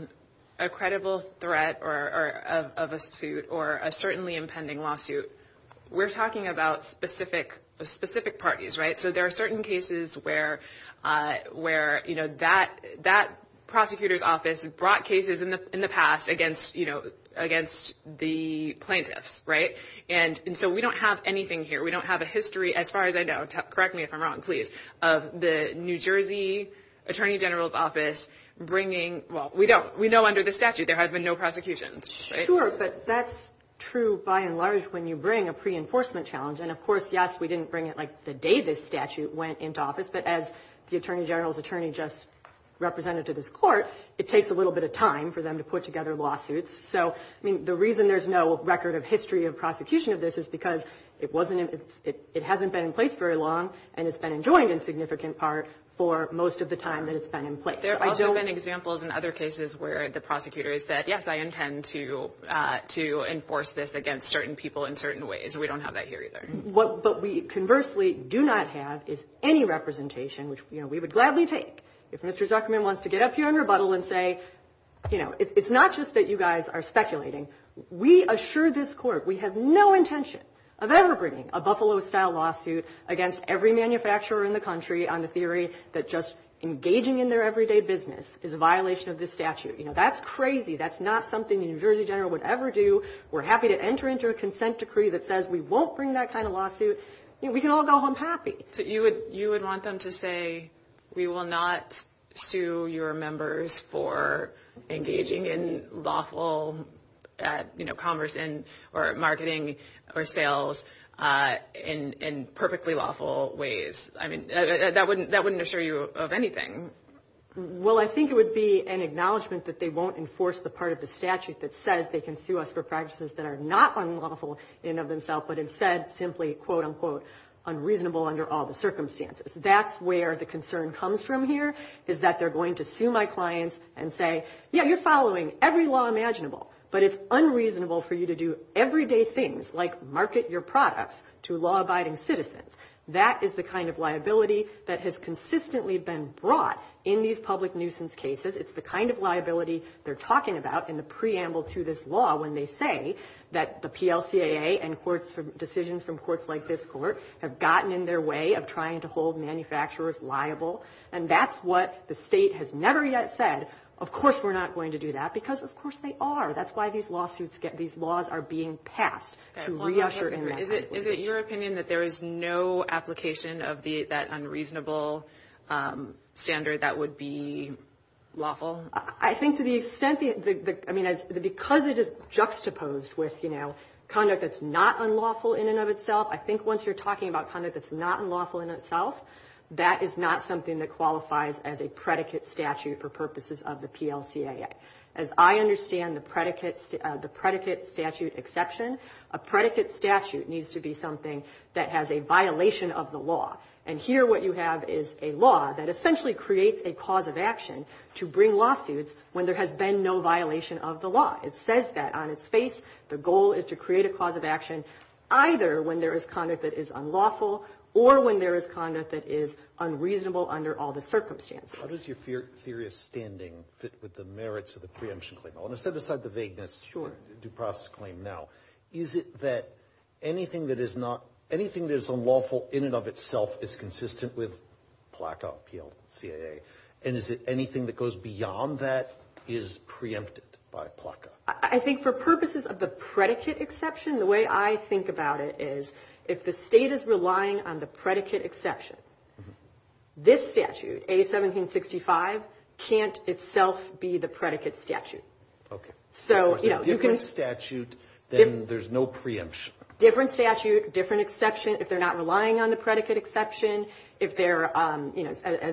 a credible threat of a suit or a certainly impending lawsuit, we're talking about specific parties, right? So there are certain cases where that prosecutor's office brought cases in the past against the plaintiffs, right? And so we don't have anything here. We don't have a history, as far as I know – correct me if I'm wrong, please – of the New Jersey Attorney General's office bringing – well, we know under the statute there have been no prosecutions, right? Sure, but that's true by and large when you bring a pre-enforcement challenge, and of course, yes, we didn't bring it like the day this statute went into office, but as the Attorney General's attorney just represented to this court, it takes a little bit of time for them to put together lawsuits. So the reason there's no record of history of prosecution of this is because it hasn't been in place very long and it's been enjoined in significant part for most of the time that it's been in place. There have also been examples in other cases where the prosecutor has said, to enforce this against certain people in certain ways, and we don't have that here either. What we conversely do not have is any representation, which we would gladly take if Mr. Zuckerman wants to get up here and rebuttal and say, you know, it's not just that you guys are speculating. We assure this court we have no intention of ever bringing a Buffalo-style lawsuit against every manufacturer in the country on the theory that just engaging in their everyday business is a violation of this statute. You know, that's crazy. That's not something the Attorney General would ever do. We're happy to enter into a consent decree that says we won't bring that kind of lawsuit. You know, we can all go home happy. So you would want them to say we will not sue your members for engaging in lawful, you know, commerce or marketing or sales in perfectly lawful ways. I mean, that wouldn't assure you of anything. Well, I think it would be an acknowledgment that they won't enforce the part of the statute that says they can sue us for practices that are not unlawful in and of themselves, but instead simply, quote, unquote, unreasonable under all the circumstances. That's where the concern comes from here is that they're going to sue my clients and say, yeah, you're following every law imaginable, but it's unreasonable for you to do everyday things like market your products to law-abiding citizens. That is the kind of liability that has consistently been brought in these public nuisance cases. It's the kind of liability they're talking about in the preamble to this law when they say that the PLCAA and decisions from courts like this court have gotten in their way of trying to hold manufacturers liable, and that's what the state has never yet said. Of course we're not going to do that because, of course, they are. That's why these laws are being passed to reassure them. Is it your opinion that there is no application of that unreasonable standard that would be lawful? I think to the extent that, I mean, because it is juxtaposed with, you know, conduct that's not unlawful in and of itself, I think once you're talking about conduct that's not unlawful in itself, that is not something that qualifies as a predicate statute for purposes of the PLCAA. As I understand the predicate statute exception, a predicate statute needs to be something that has a violation of the law. And here what you have is a law that essentially creates a cause of action to bring lawsuits when there has been no violation of the law. It says that on its face. The goal is to create a cause of action either when there is conduct that is unlawful or when there is conduct that is unreasonable under all the circumstances. How does your theory of standing fit with the merits of the preemption claim? I want to set aside the vagueness of the due process claim now. Is it that anything that is unlawful in and of itself is consistent with PLCAA? And is it anything that goes beyond that is preempted by PLCAA? I think for purposes of the predicate exception, the way I think about it is if the state is relying on the predicate exception, this statute, A1765, can't itself be the predicate statute. Okay. If it's a different statute, then there's no preemption. Different statute, different exception. If they're not relying on the predicate exception, as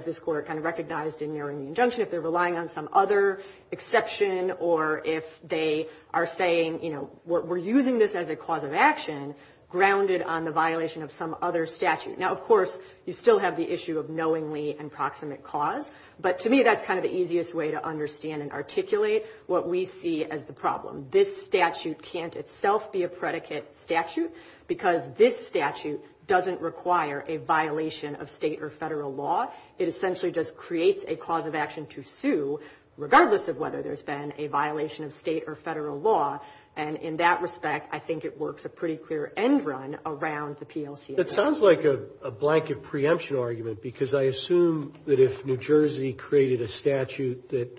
this Court kind of recognized in your injunction, if they're relying on some other exception or if they are saying we're using this as a cause of action grounded on the violation of some other statute. Now, of course, you still have the issue of knowingly and proximate cause, but to me that's kind of the easiest way to understand and articulate what we see as the problem. This statute can't itself be a predicate statute because this statute doesn't require a violation of state or federal law. It essentially just creates a cause of action to sue regardless of whether there's been a violation of state or federal law. And in that respect, I think it works a pretty clear end run around the PLCA. It sounds like a blanket preemption argument because I assume that if New Jersey created a statute that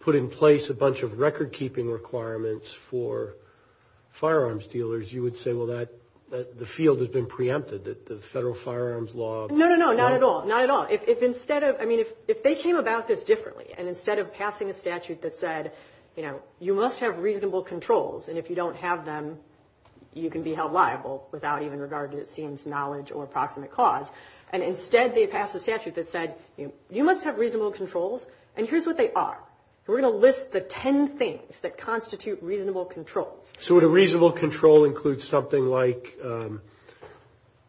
put in place a bunch of record-keeping requirements for firearms dealers, you would say, well, the field has been preempted, the federal firearms law. No, no, no, not at all. Not at all. I mean, if they came about this differently and instead of passing a statute that said, you know, reasonable controls, and if you don't have them, you can be held liable without even regard to, it seems, knowledge or approximate cause, and instead they passed a statute that said, you must have reasonable controls and here's what they are. We're going to list the ten things that constitute reasonable control. So the reasonable control includes something like, you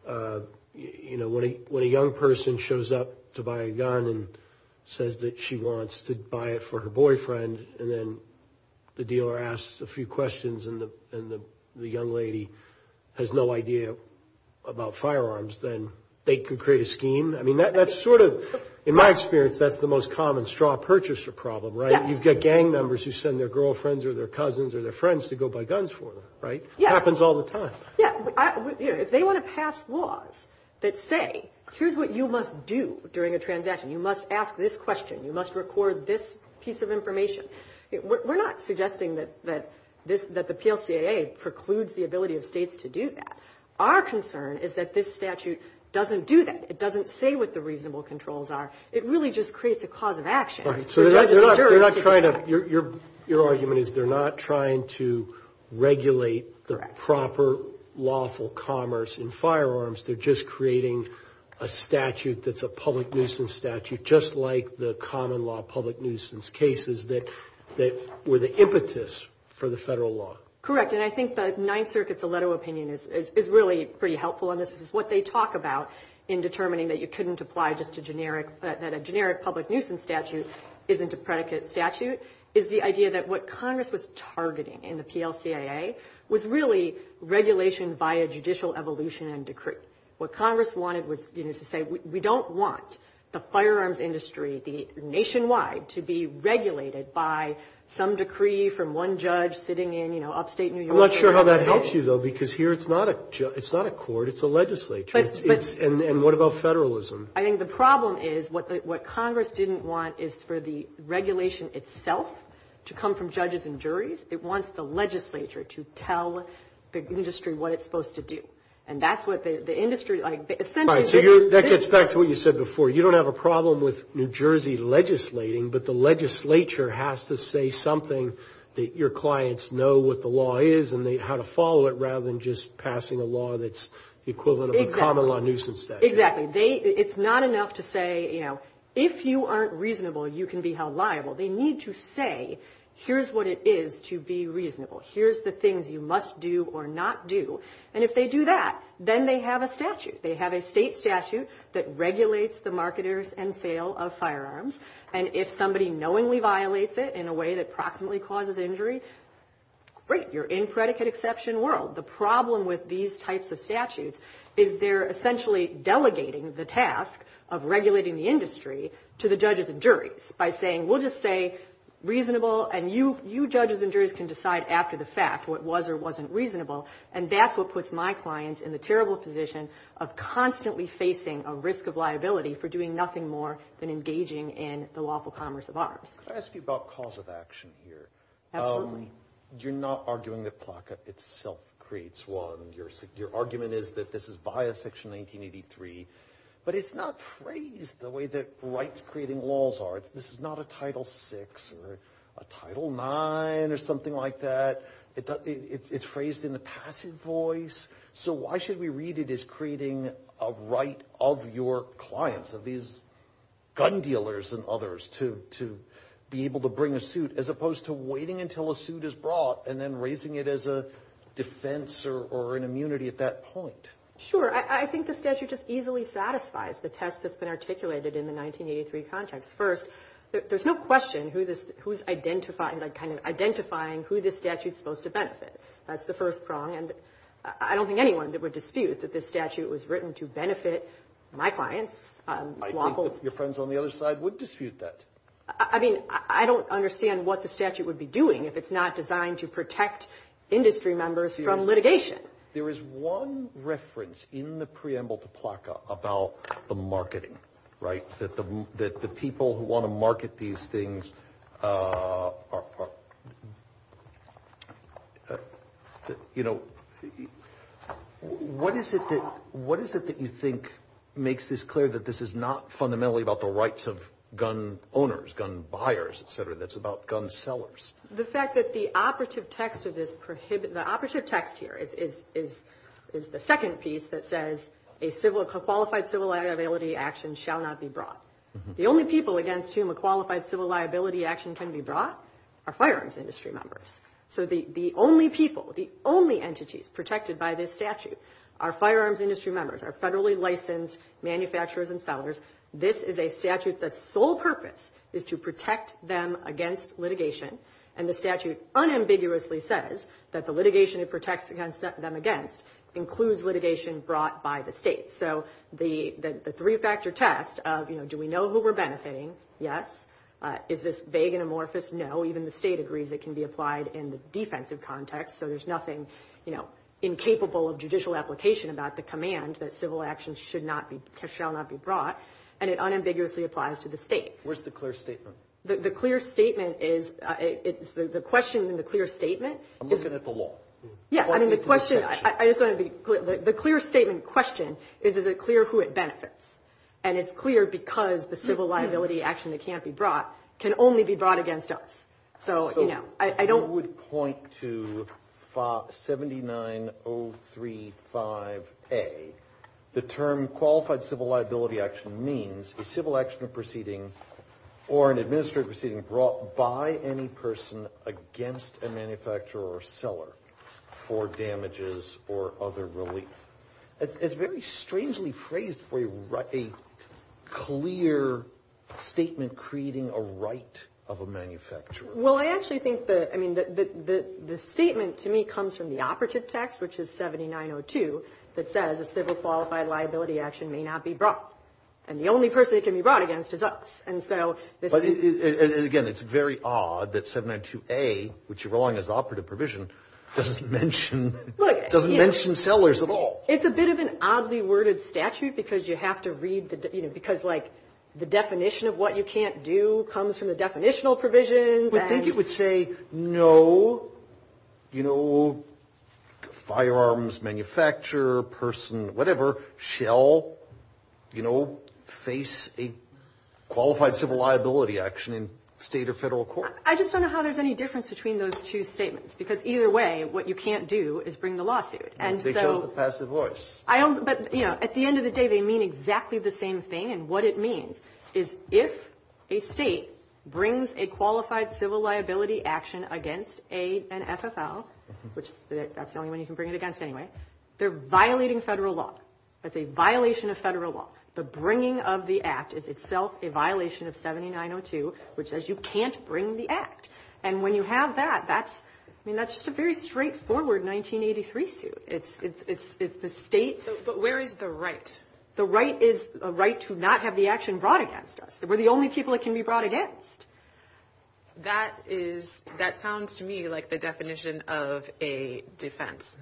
know, when a young person shows up to buy a gun and says that she wants to buy it for her boyfriend and then the dealer asks a few questions and the young lady has no idea about firearms, then they can create a scheme. I mean, that's sort of, in my experience, that's the most common straw purchaser problem, right? You've got gang members who send their girlfriends or their cousins or their friends to go buy guns for them, right? It happens all the time. Yeah. If they want to pass laws that say, here's what you must do during a transaction. You must ask this question. You must record this piece of information. We're not suggesting that the PLCAA precludes the ability of states to do that. Our concern is that this statute doesn't do that. It doesn't say what the reasonable controls are. It really just creates a cause of action. Your argument is they're not trying to regulate the proper lawful commerce in firearms. They're just creating a statute that's a public nuisance statute, just like the common law public nuisance cases that were the impetus for the federal law. Correct. And I think the Ninth Circuit's letter of opinion is really pretty helpful on this. What they talk about in determining that you couldn't apply just a generic public nuisance statute isn't a predicate statute is the idea that what Congress was targeting in the PLCAA was really regulation via judicial evolution and decree. What Congress wanted was to say we don't want the firearms industry nationwide to be regulated by some decree from one judge sitting in upstate New York. I'm not sure how that helps you, though, because here it's not a court. It's a legislature. And what about federalism? I think the problem is what Congress didn't want is for the regulation itself to come from judges and juries. It wants the legislature to tell the industry what it's supposed to do. And that's what the industry – All right, so that gets back to what you said before. You don't have a problem with New Jersey legislating, but the legislature has to say something that your clients know what the law is and how to follow it rather than just passing a law that's the equivalent of a common law nuisance statute. Exactly. It's not enough to say, you know, if you aren't reasonable, you can be held liable. They need to say here's what it is to be reasonable. Here's the things you must do or not do. And if they do that, then they have a statute. They have a state statute that regulates the marketers and sale of firearms. And if somebody knowingly violates it in a way that proximately causes injury, great, you're in predicate exception world. The problem with these types of statutes is they're essentially delegating the task of regulating the industry to the judges and juries by saying we'll just say reasonable and you judges and juries can decide after the fact what was or wasn't reasonable. And that's what puts my clients in the terrible position of constantly facing a risk of liability for doing nothing more than engaging in the lawful commerce of arms. Can I ask you about cause of action here? Absolutely. You're not arguing that CLACA itself creates one. Your argument is that this is bias section 1983. But it's not phrased the way that rights-creating laws are. This is not a Title VI or a Title IX or something like that. It's phrased in the passive voice. So why should we read it as creating a right of your clients, of these gun dealers and others, to be able to bring a suit as opposed to waiting until a suit is brought and then raising it as a defense or an immunity at that point? Sure. I think the statute just easily satisfies the text that's been articulated in the 1983 context. First, there's no question who's identifying who this statute's supposed to benefit. That's the first prong. And I don't think anyone would dispute that this statute was written to benefit my clients. I don't know if your friends on the other side would dispute that. I mean, I don't understand what the statute would be doing if it's not designed to protect industry members from litigation. There is one reference in the preamble to CLACA about the marketing, right, that the people who want to market these things are, you know, what is it that you think makes this clear that this is not fundamentally about the rights of gun owners, gun buyers, et cetera, that's about gun sellers? The fact that the operative text of this prohibits, The operative text here is the second piece that says a qualified civil liability action shall not be brought. The only people against whom a qualified civil liability action can be brought are firearms industry members. So the only people, the only entities protected by this statute are firearms industry members, are federally licensed manufacturers and sellers. This is a statute that's sole purpose is to protect them against litigation, and the statute unambiguously says that the litigation it protects them against includes litigation brought by the state. So the three-factor test of, you know, do we know who we're benefiting? Yes. Is this vague and amorphous? No. Even the state agrees it can be applied in the defensive context, so there's nothing, you know, incapable of judicial application about the command that civil actions shall not be brought, and it unambiguously applies to the state. Where's the clear statement? The clear statement is, it's the question in the clear statement. I'm looking at the law. Yeah, I mean the question, I just want to be clear. The clear statement question is, is it clear who it benefits? And it's clear because the civil liability action that can't be brought can only be brought against us. So, you know, I don't. I would point to 79035A. The term qualified civil liability action means the civil action proceeding or an administrative proceeding brought by any person against a manufacturer or seller for damages or other relief. It's very strangely phrased for a clear statement creating a right of a manufacturer. Well, I actually think that, I mean, the statement to me comes from the operative text, which is 7902, that says a civil qualified liability action may not be brought. And the only person it can be brought against is us. And again, it's very odd that 7902A, which you're rolling as the operative provision, doesn't mention sellers at all. It's a bit of an oddly worded statute because you have to read, you know, because like the definition of what you can't do comes from the definitional provision. I think it would say no, you know, firearms manufacturer, person, whatever, shall, you know, face a qualified civil liability action in state or federal court. I just don't know how there's any difference between those two statements because either way what you can't do is bring the lawsuit. They show the passive voice. But, you know, at the end of the day they mean exactly the same thing. And what it means is if a state brings a qualified civil liability action against an FFL, which is the only one you can bring it against anyway, they're violating federal law. That's a violation of federal law. The bringing of the act is itself a violation of 7902, which says you can't bring the act. And when you have that, that's just a very straightforward 1983 suit. It's the state. But where is the right? The right is a right to not have the action brought against us. We're the only people it can be brought against. That sounds to me like the definition of a defense.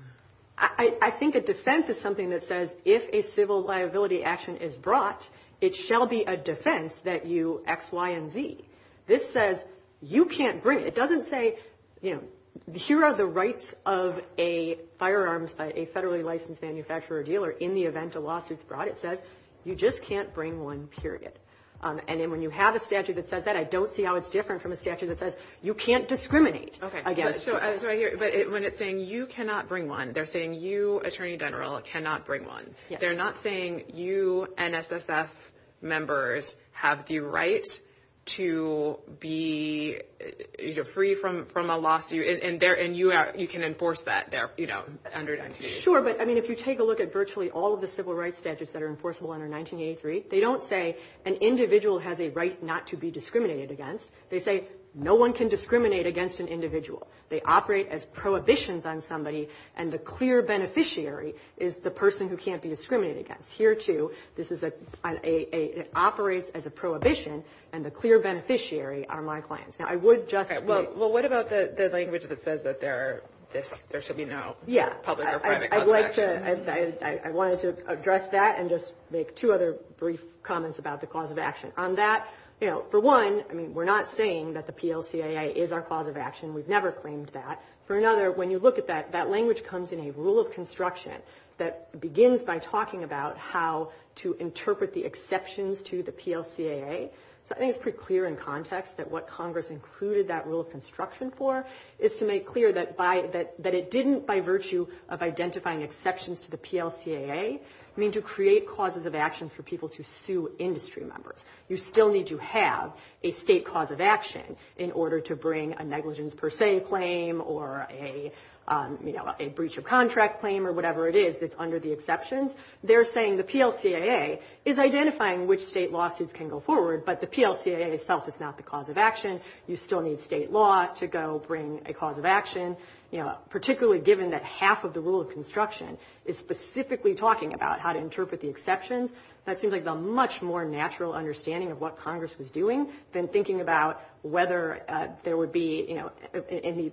I think a defense is something that says if a civil liability action is brought, it shall be a defense that you X, Y, and Z. This says you can't bring it. It doesn't say, you know, here are the rights of a firearms, a federally licensed manufacturer or dealer in the event a lawsuit is brought. It says you just can't bring one, period. And then when you have a statute that says that, I don't see how it's different from a statute that says you can't discriminate against. But when it's saying you cannot bring one, they're saying you, Attorney General, cannot bring one. They're not saying you NSSS members have the right to be free from a lawsuit, and you can enforce that there under 1983. Sure, but if you take a look at virtually all of the civil rights statutes that are enforceable under 1983, they don't say an individual has a right not to be discriminated against. They say no one can discriminate against an individual. They operate as prohibitions on somebody, and the clear beneficiary is the person who can't be discriminated against. Here, too, it operates as a prohibition, and the clear beneficiary are my clients. Okay, well, what about the language that says that there should be no public or private contact? I wanted to address that and just make two other brief comments about the cause of action. On that, for one, we're not saying that the PLCAA is our cause of action. We've never claimed that. For another, when you look at that, that language comes in a rule of construction that begins by talking about how to interpret the exceptions to the PLCAA. So I think it's pretty clear in context that what Congress included that rule of construction for is to make clear that it didn't, by virtue of identifying exceptions to the PLCAA, mean to create causes of action for people to sue industry members. You still need to have a state cause of action in order to bring a negligence per se claim or a breach of contract claim or whatever it is that's under the exceptions. They're saying the PLCAA is identifying which state lawsuits can go forward, but the PLCAA itself is not the cause of action. You still need state law to go bring a cause of action, particularly given that half of the rule of construction is specifically talking about how to interpret the exceptions. That seems like a much more natural understanding of what Congress was doing than thinking about whether there would be any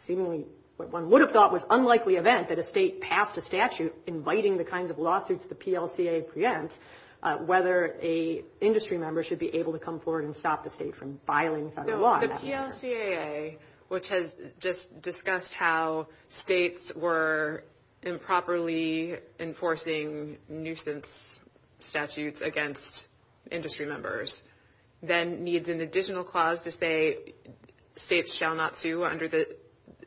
seemingly what one would have thought was unlikely event that a state passed a statute inviting the kind of lawsuits the PLCAA presents, whether an industry member should be able to come forward and stop the state from filing federal law. The PLCAA, which has just discussed how states were improperly enforcing nuisance statutes against industry members, then needs an additional clause to say states shall not sue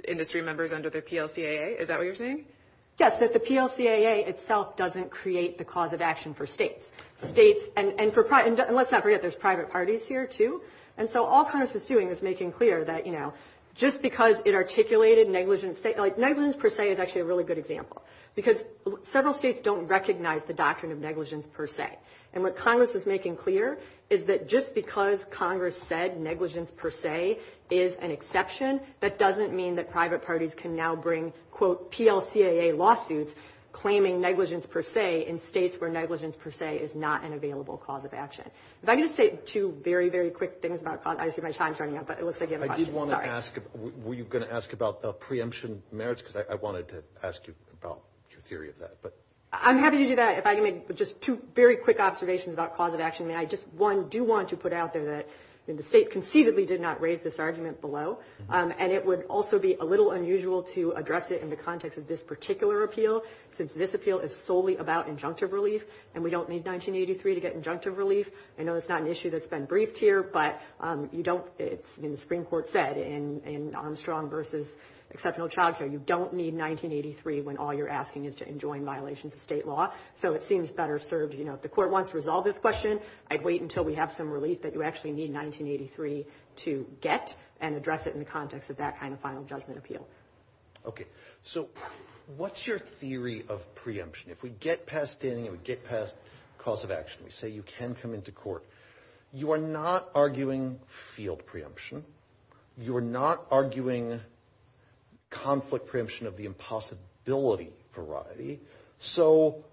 industry members under the PLCAA. Is that what you're saying? Yes, that the PLCAA itself doesn't create the cause of action for states. And let's not forget there's private parties here too. And so all Congress is doing is making clear that, you know, just because it articulated negligence per se is actually a really good example because several states don't recognize the doctrine of negligence per se. And what Congress is making clear is that just because Congress said negligence per se is an exception, that doesn't mean that private parties can now bring, quote, PLCAA lawsuits claiming negligence per se in states where negligence per se is not an available cause of action. If I can just say two very, very quick things about – I see my time's running out, but it looks like you have a question. I do want to ask – were you going to ask about the preemption merits? Because I wanted to ask you about your theory of that. I'm happy to do that. If I can make just two very quick observations about cause of action. I just, one, do want to put out there that the state conceivably did not raise this argument below. And it would also be a little unusual to address it in the context of this particular appeal since this appeal is solely about injunctive relief, and we don't need 1983 to get injunctive relief. I know it's not an issue that's been briefed here, but you don't – it's, you know, the Supreme Court said in Armstrong v. Exceptional Childcare, you don't need 1983 when all you're asking is to enjoin violations of state law. So it seems better served, you know, if the court wants to resolve this question, I'd wait until we have some relief that you actually need 1983 to get and address it in the context of that kind of final judgment appeal. Okay. So what's your theory of preemption? If we get past standing and we get past cause of action, we say you can come into court. You are not arguing field preemption. You are not arguing conflict preemption of the impossibility variety. So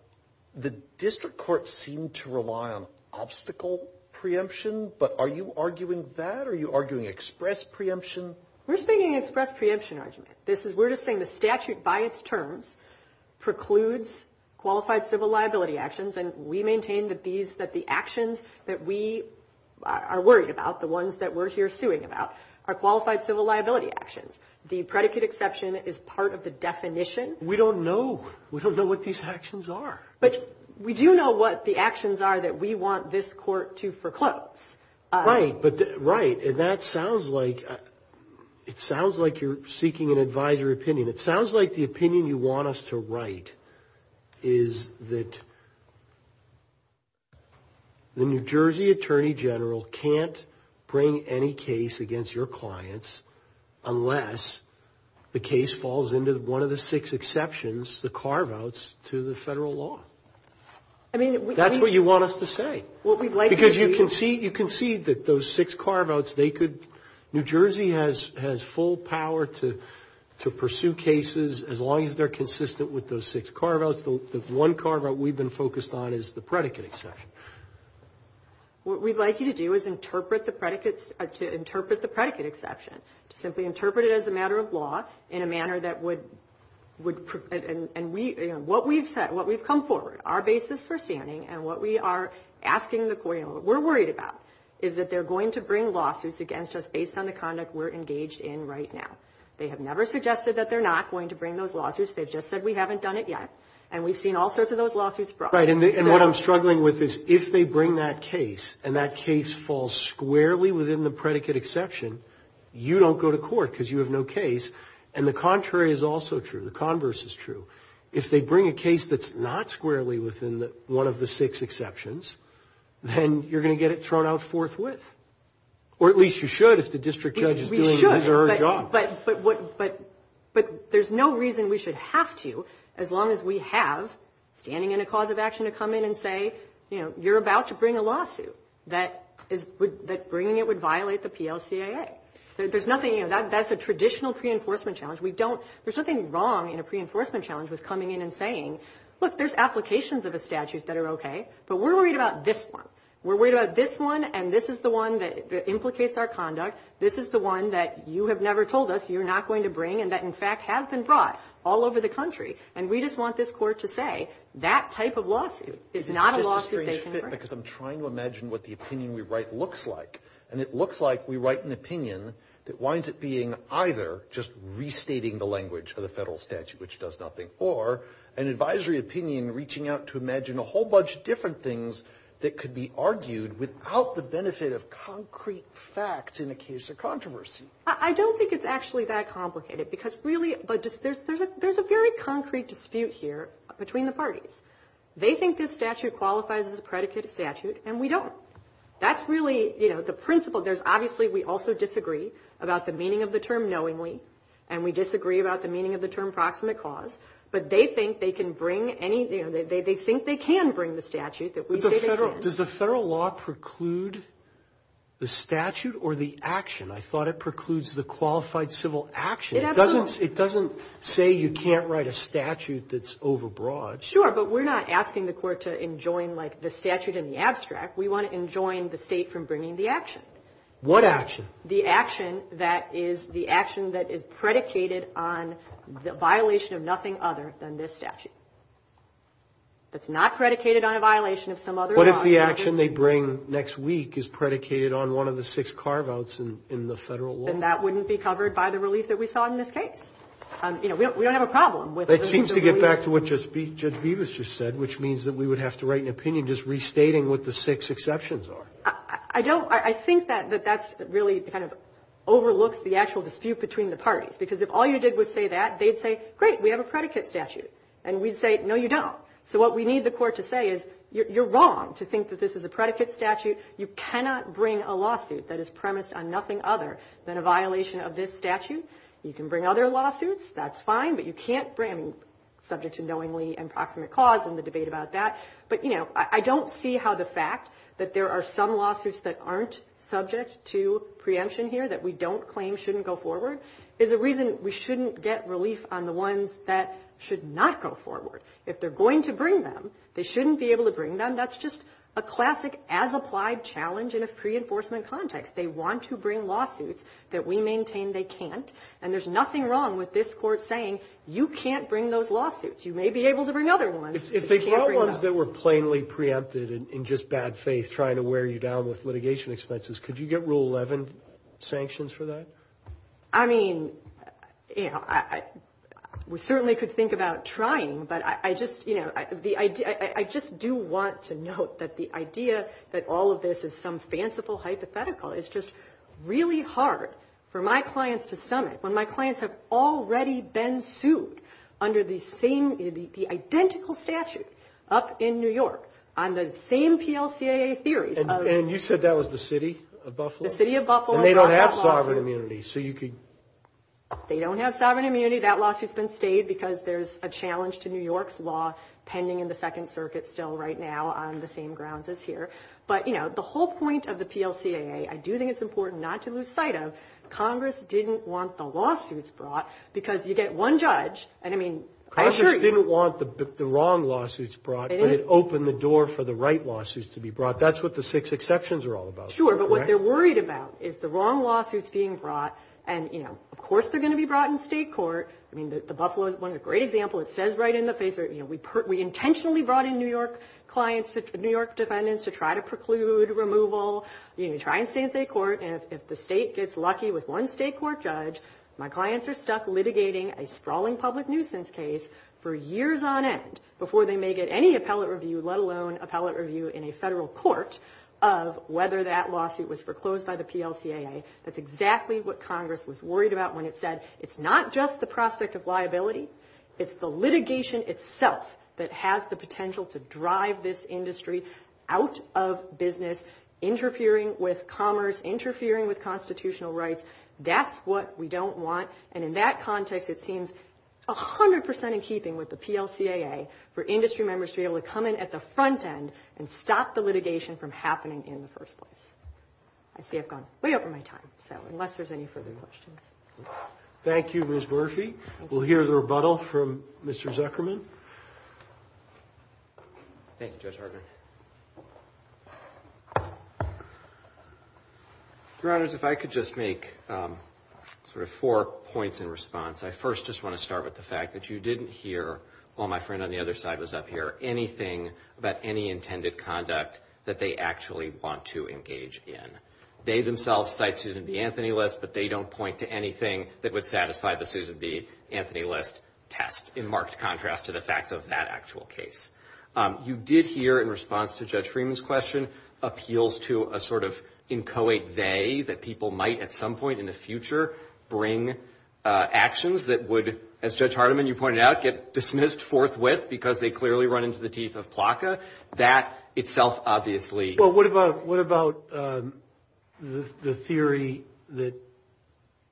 the district courts seem to rely on obstacle preemption, but are you arguing that? Are you arguing express preemption? We're speaking express preemption. We're just saying the statute by its terms precludes qualified civil liability actions, and we maintain that the actions that we are worried about, the ones that we're here suing about, are qualified civil liability actions. The predicate exception is part of the definition. We don't know. We don't know what these actions are. But we do know what the actions are that we want this court to foreclose. Right. And that sounds like you're seeking an advisory opinion. It sounds like the opinion you want us to write is that the New Jersey Attorney General can't bring any case against your clients unless the case falls into one of the six exceptions, the carve-outs to the federal law. That's what you want us to say. Because you can see that those six carve-outs, New Jersey has full power to pursue cases as long as they're consistent with those six carve-outs. The one carve-out we've been focused on is the predicate exception. What we'd like you to do is interpret the predicate exception, simply interpret it as a matter of law in a manner that would – what we've said, what we've come forward, our basis for standing, and what we are asking the court and what we're worried about is that they're going to bring lawsuits against us based on the conduct we're engaged in right now. They have never suggested that they're not going to bring those lawsuits. They've just said we haven't done it yet. And we've seen all sorts of those lawsuits brought. Right, and what I'm struggling with is if they bring that case and that case falls squarely within the predicate exception, you don't go to court because you have no case. And the contrary is also true. The converse is true. If they bring a case that's not squarely within one of the six exceptions, then you're going to get it thrown out forthwith. Or at least you should if the district judge is doing his or her job. But there's no reason we should have to as long as we have standing in a cause of action to come in and say, you know, you're about to bring a lawsuit that bringing it would violate the PLCAA. There's nothing – that's a traditional pre-enforcement challenge. We don't – there's nothing wrong in a pre-enforcement challenge with coming in and saying, look, there's applications of a statute that are okay, but we're worried about this one. We're worried about this one, and this is the one that implicates our conduct. This is the one that you have never told us you're not going to bring and that, in fact, has been brought all over the country. And we just want this court to say that type of lawsuit is not a lawsuit they can bring. Because I'm trying to imagine what the opinion we write looks like. And it looks like we write an opinion that winds up being either just restating the language for the federal statute, which does nothing, or an advisory opinion reaching out to imagine a whole bunch of different things that could be argued without the benefit of concrete fact in the case of controversy. I don't think it's actually that complicated because really there's a very concrete dispute here between the parties. They think this statute qualifies as a predicate statute, and we don't. That's really the principle. There's obviously – we also disagree about the meaning of the term knowingly, and we disagree about the meaning of the term proximate cause. But they think they can bring any – they think they can bring the statute. Does the federal law preclude the statute or the action? I thought it precludes the qualified civil action. It doesn't say you can't write a statute that's over broad. Sure, but we're not asking the court to enjoin, like, the statute in the abstract. We want to enjoin the state from bringing the action. What action? The action that is the action that is predicated on the violation of nothing other than this statute. It's not predicated on a violation of some other law. What if the action they bring next week is predicated on one of the six carve-outs in the federal law? Then that wouldn't be covered by the release that we saw in this case. You know, we don't have a problem with – That seems to get back to what Judge Beavis just said, which means that we would have to write an opinion just restating what the six exceptions are. I don't – I think that that's really kind of overlooks the actual dispute between the parties because if all you did was say that, they'd say, great, we have a predicate statute, and we'd say, no, you don't. So what we need the court to say is, you're wrong to think that this is a predicate statute. You cannot bring a lawsuit that is premised on nothing other than a violation of this statute. You can bring other lawsuits, that's fine, but you can't bring subject to knowingly and proximate cause in the debate about that. But, you know, I don't see how the fact that there are some lawsuits that aren't subject to preemption here that we don't claim shouldn't go forward is a reason we shouldn't get relief on the ones that should not go forward. If they're going to bring them, they shouldn't be able to bring them. That's just a classic as-applied challenge in a pre-enforcement context. They want to bring lawsuits that we maintain they can't, and there's nothing wrong with this court saying, you can't bring those lawsuits. You may be able to bring other ones, but you can't bring them. If they brought ones that were plainly preempted and just bad faith trying to wear you down with litigation expenses, could you get Rule 11 sanctions for that? I mean, we certainly could think about trying, but I just do want to note that the idea that all of this is some fanciful hypothetical is just really hard for my clients to summit when my clients have already been sued under the identical statute up in New York on the same PLCAA theory. And you said that was the city of Buffalo? The city of Buffalo. And they don't have sovereign immunity, so you could... They don't have sovereign immunity. That lawsuit's been stayed because there's a challenge to New York's law pending in the Second Circuit still right now on the same grounds as here. But, you know, the whole point of the PLCAA I do think it's important not to lose sight of. Congress didn't want the lawsuits brought because you get one judge, and I mean... Congress didn't want the wrong lawsuits brought, but it opened the door for the right lawsuits to be brought. That's what the six exceptions are all about. Sure, but what they're worried about is the wrong lawsuits being brought, and, you know, of course they're going to be brought in state court. I mean, the Buffalo is one great example. It says right in the paper, you know, we intentionally brought in New York clients, New York defendants to try to preclude removal, you know, try and stay in state court, and if the state gets lucky with one state court judge, my clients are stuck litigating a sprawling public nuisance case for years on end before they may get any appellate review, let alone appellate review in a federal court, regardless of whether that lawsuit was foreclosed by the PLCAA. That's exactly what Congress was worried about when it said it's not just the prospect of liability, it's the litigation itself that has the potential to drive this industry out of business, interfering with commerce, interfering with constitutional rights. That's what we don't want, and in that context it seems 100% in keeping with the PLCAA for industry members to be able to come in at the front end and stop the litigation from happening in the first place. I say I've gone way over my time, so unless there's any further questions. Thank you, Ms. Murphy. We'll hear the rebuttal from Mr. Zuckerman. Thank you, Judge Harder. Your Honors, if I could just make sort of four points in response. I first just want to start with the fact that you didn't hear, while my friend on the other side was up here, anything about any intended conduct that they actually want to engage in. They themselves cite Susan B. Anthony List, but they don't point to anything that would satisfy the Susan B. Anthony List test, in marked contrast to the fact of that actual case. You did hear in response to Judge Freeman's question appeals to a sort of inchoate they that people might at some point in the future bring actions that would, as Judge Harderman, you pointed out, get dismissed forthwith because they clearly run into the teeth of PLCAA. That itself obviously. Well, what about the theory that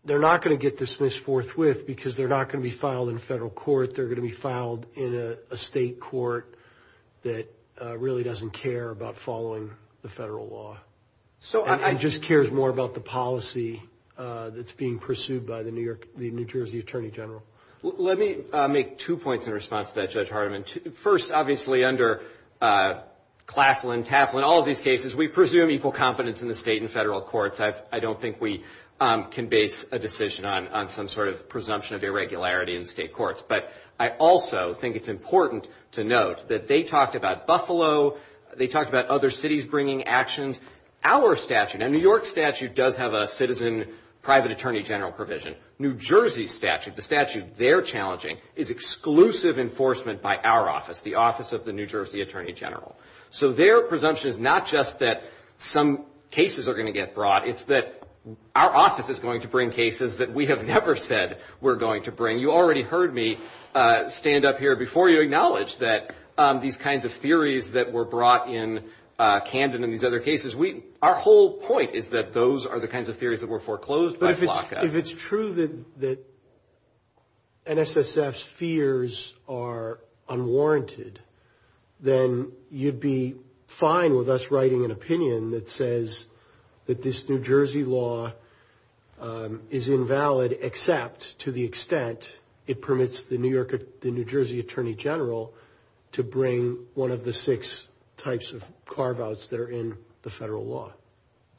they're not going to get dismissed forthwith because they're not going to be filed in federal court, they're going to be filed in a state court that really doesn't care about following the federal law and just cares more about the policy that's being pursued by the New Jersey Attorney General? Let me make two points in response to that, Judge Harderman. First, obviously, under Claflin, Taflin, all of these cases, we presume equal competence in the state and federal courts. I don't think we can base a decision on some sort of presumption of irregularity in state courts, but I also think it's important to note that they talked about Buffalo, they talked about other cities bringing actions. Our statute, a New York statute, does have a citizen private attorney general provision. New Jersey statute, the statute they're challenging, is exclusive enforcement by our office, the office of the New Jersey Attorney General. So their presumption is not just that some cases are going to get brought, it's that our office is going to bring cases that we have never said we're going to bring. You already heard me stand up here before you acknowledge that these kinds of theories that were brought in candid in these other cases, our whole point is that those are the kinds of theories that were foreclosed by Flocka. If it's true that NSSF's fears are unwarranted, then you'd be fine with us writing an opinion that says that this New Jersey law is invalid except to the extent it permits the New Jersey Attorney General to bring one of the six types of carve-outs that are in the federal law.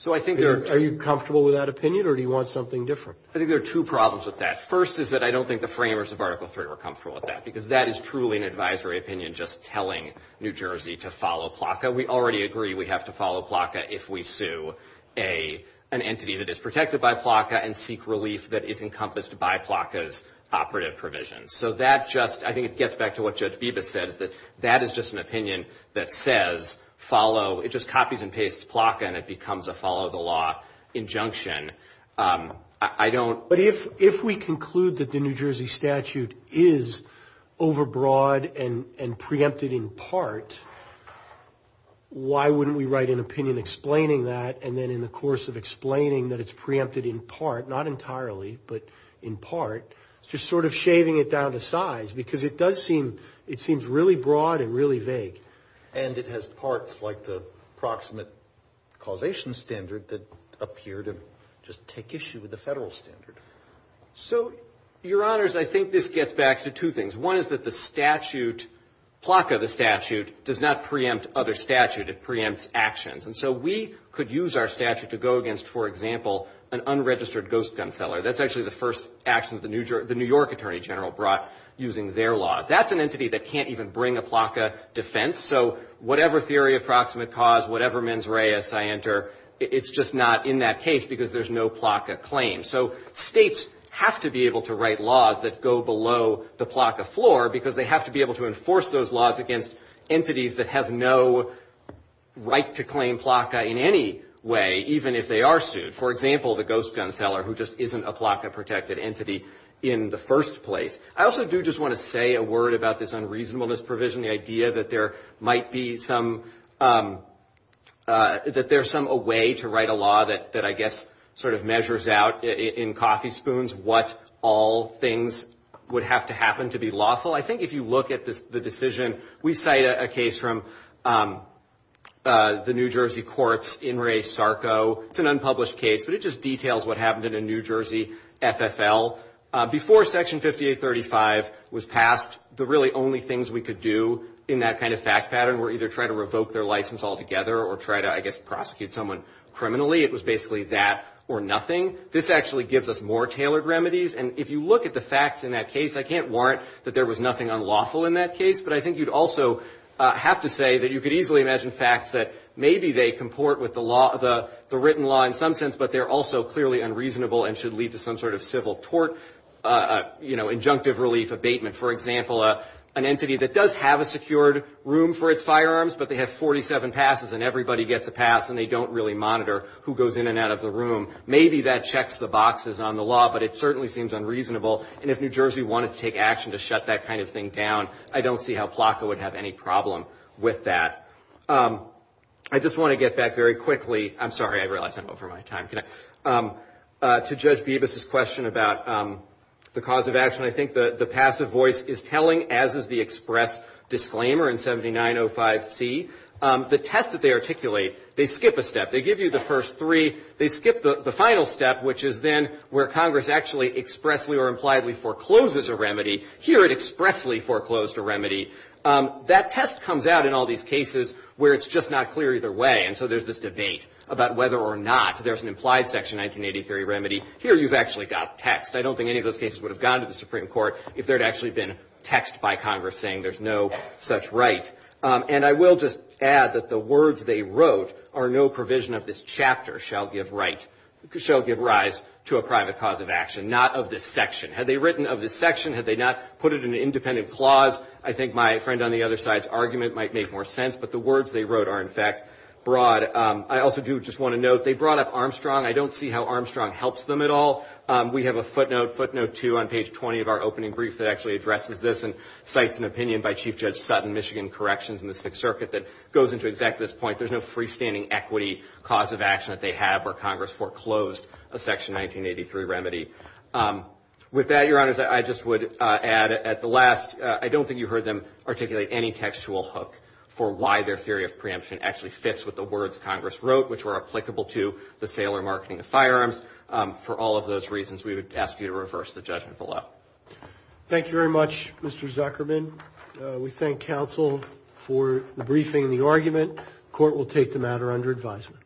Are you comfortable with that opinion or do you want something different? I think there are two problems with that. First is that I don't think the framers of Article III are comfortable with that because that is truly an advisory opinion just telling New Jersey to follow Flocka. We already agree we have to follow Flocka if we sue an entity that is protected by Flocka and seek relief that is encompassed by Flocka's operative provisions. So that just, I think it gets back to what Judge Beebe said, that is just an opinion that says follow, it just copies and pastes Flocka and it becomes a follow the law injunction. But if we conclude that the New Jersey statute is overbroad and preempted in part, why wouldn't we write an opinion explaining that and then in the course of explaining that it's preempted in part, not entirely, but in part, just sort of shaving it down to size because it does seem, it seems really broad and really vague. And it has parts like the proximate causation standard that appear to just take issue with the federal standard. So, Your Honors, I think this gets back to two things. One is that the statute, Flocka the statute, does not preempt other statute, it preempts actions. And so we could use our statute to go against, for example, an unregistered ghost gun seller. That's actually the first action the New York Attorney General brought using their law. That's an entity that can't even bring a Flocka defense. So whatever theory of proximate cause, whatever mens reis I enter, it's just not in that case because there's no Flocka claim. So states have to be able to write laws that go below the Flocka floor because they have to be able to enforce those laws against entities that have no right to claim Flocka in any way, even if they are sued. For example, the ghost gun seller who just isn't a Flocka protected entity in the first place. I also do just want to say a word about this unreasonableness provision, the idea that there might be some, that there's some way to write a law that, that I guess sort of measures out in coffee spoons what all things would have to happen to be lawful. I think if you look at the decision, we cite a case from the New Jersey courts in Ray Sarko. It's an unpublished case, but it just details what happened in a New Jersey FFL. Before Section 5835 was passed, the really only things we could do in that kind of fact pattern were either try to revoke their license altogether or try to, I guess, prosecute someone criminally. It was basically that or nothing. This actually gives us more tailored remedies, and if you look at the facts in that case, I can't warrant that there was nothing unlawful in that case, but I think you'd also have to say that you could easily imagine facts that maybe they comport with the law, the written law in some sense, but they're also clearly unreasonable and should lead to some sort of civil tort, you know, injunctive relief abatement. For example, an entity that does have a secured room for its firearms, but they have 47 passes and everybody gets a pass and they don't really monitor who goes in and out of the room. Maybe that checks the boxes on the law, but it certainly seems unreasonable, and if New Jersey wanted to take action to shut that kind of thing down, I don't see how FLACA would have any problem with that. I just want to get back very quickly. I'm sorry, I realize I'm over my time. To Judge Bebas's question about the cause of action, I think the passive voice is telling, as is the express disclaimer in 7905C, the test that they articulate, they skip a step. They give you the first three. They skip the final step, which is then where Congress actually expressly or impliedly forecloses a remedy. Here it expressly foreclosed a remedy. That test comes out in all these cases where it's just not clear either way, and so there's this debate about whether or not there's an implied Section 1983 remedy. Here you've actually got text. I don't think any of those cases would have gone to the Supreme Court if there had actually been text by Congress saying there's no such right. And I will just add that the words they wrote are no provision of this chapter shall give rise to a private cause of action, not of this section. Had they written of this section, had they not put it in an independent clause, I think my friend on the other side's argument might make more sense, but the words they wrote are, in fact, broad. I also do just want to note they brought up Armstrong. I don't see how Armstrong helps them at all. We have a footnote, footnote 2, on page 20 of our opening brief that actually addresses this and cites an opinion by Chief Judge Sutton, Michigan Corrections, and the Sixth Circuit that goes into exactly this point. There's no freestanding equity cause of action that they have where Congress foreclosed a Section 1983 remedy. With that, Your Honors, I just would add at the last, I don't think you heard them articulate any textual hook for why their theory of preemption actually fits with the words Congress wrote, which were applicable to the Taylor Marketing Firearms. For all of those reasons, we would ask you to reverse the judgment below. Thank you very much, Mr. Zuckerman. We thank counsel for the briefing and the argument. Court will take the matter under advisement.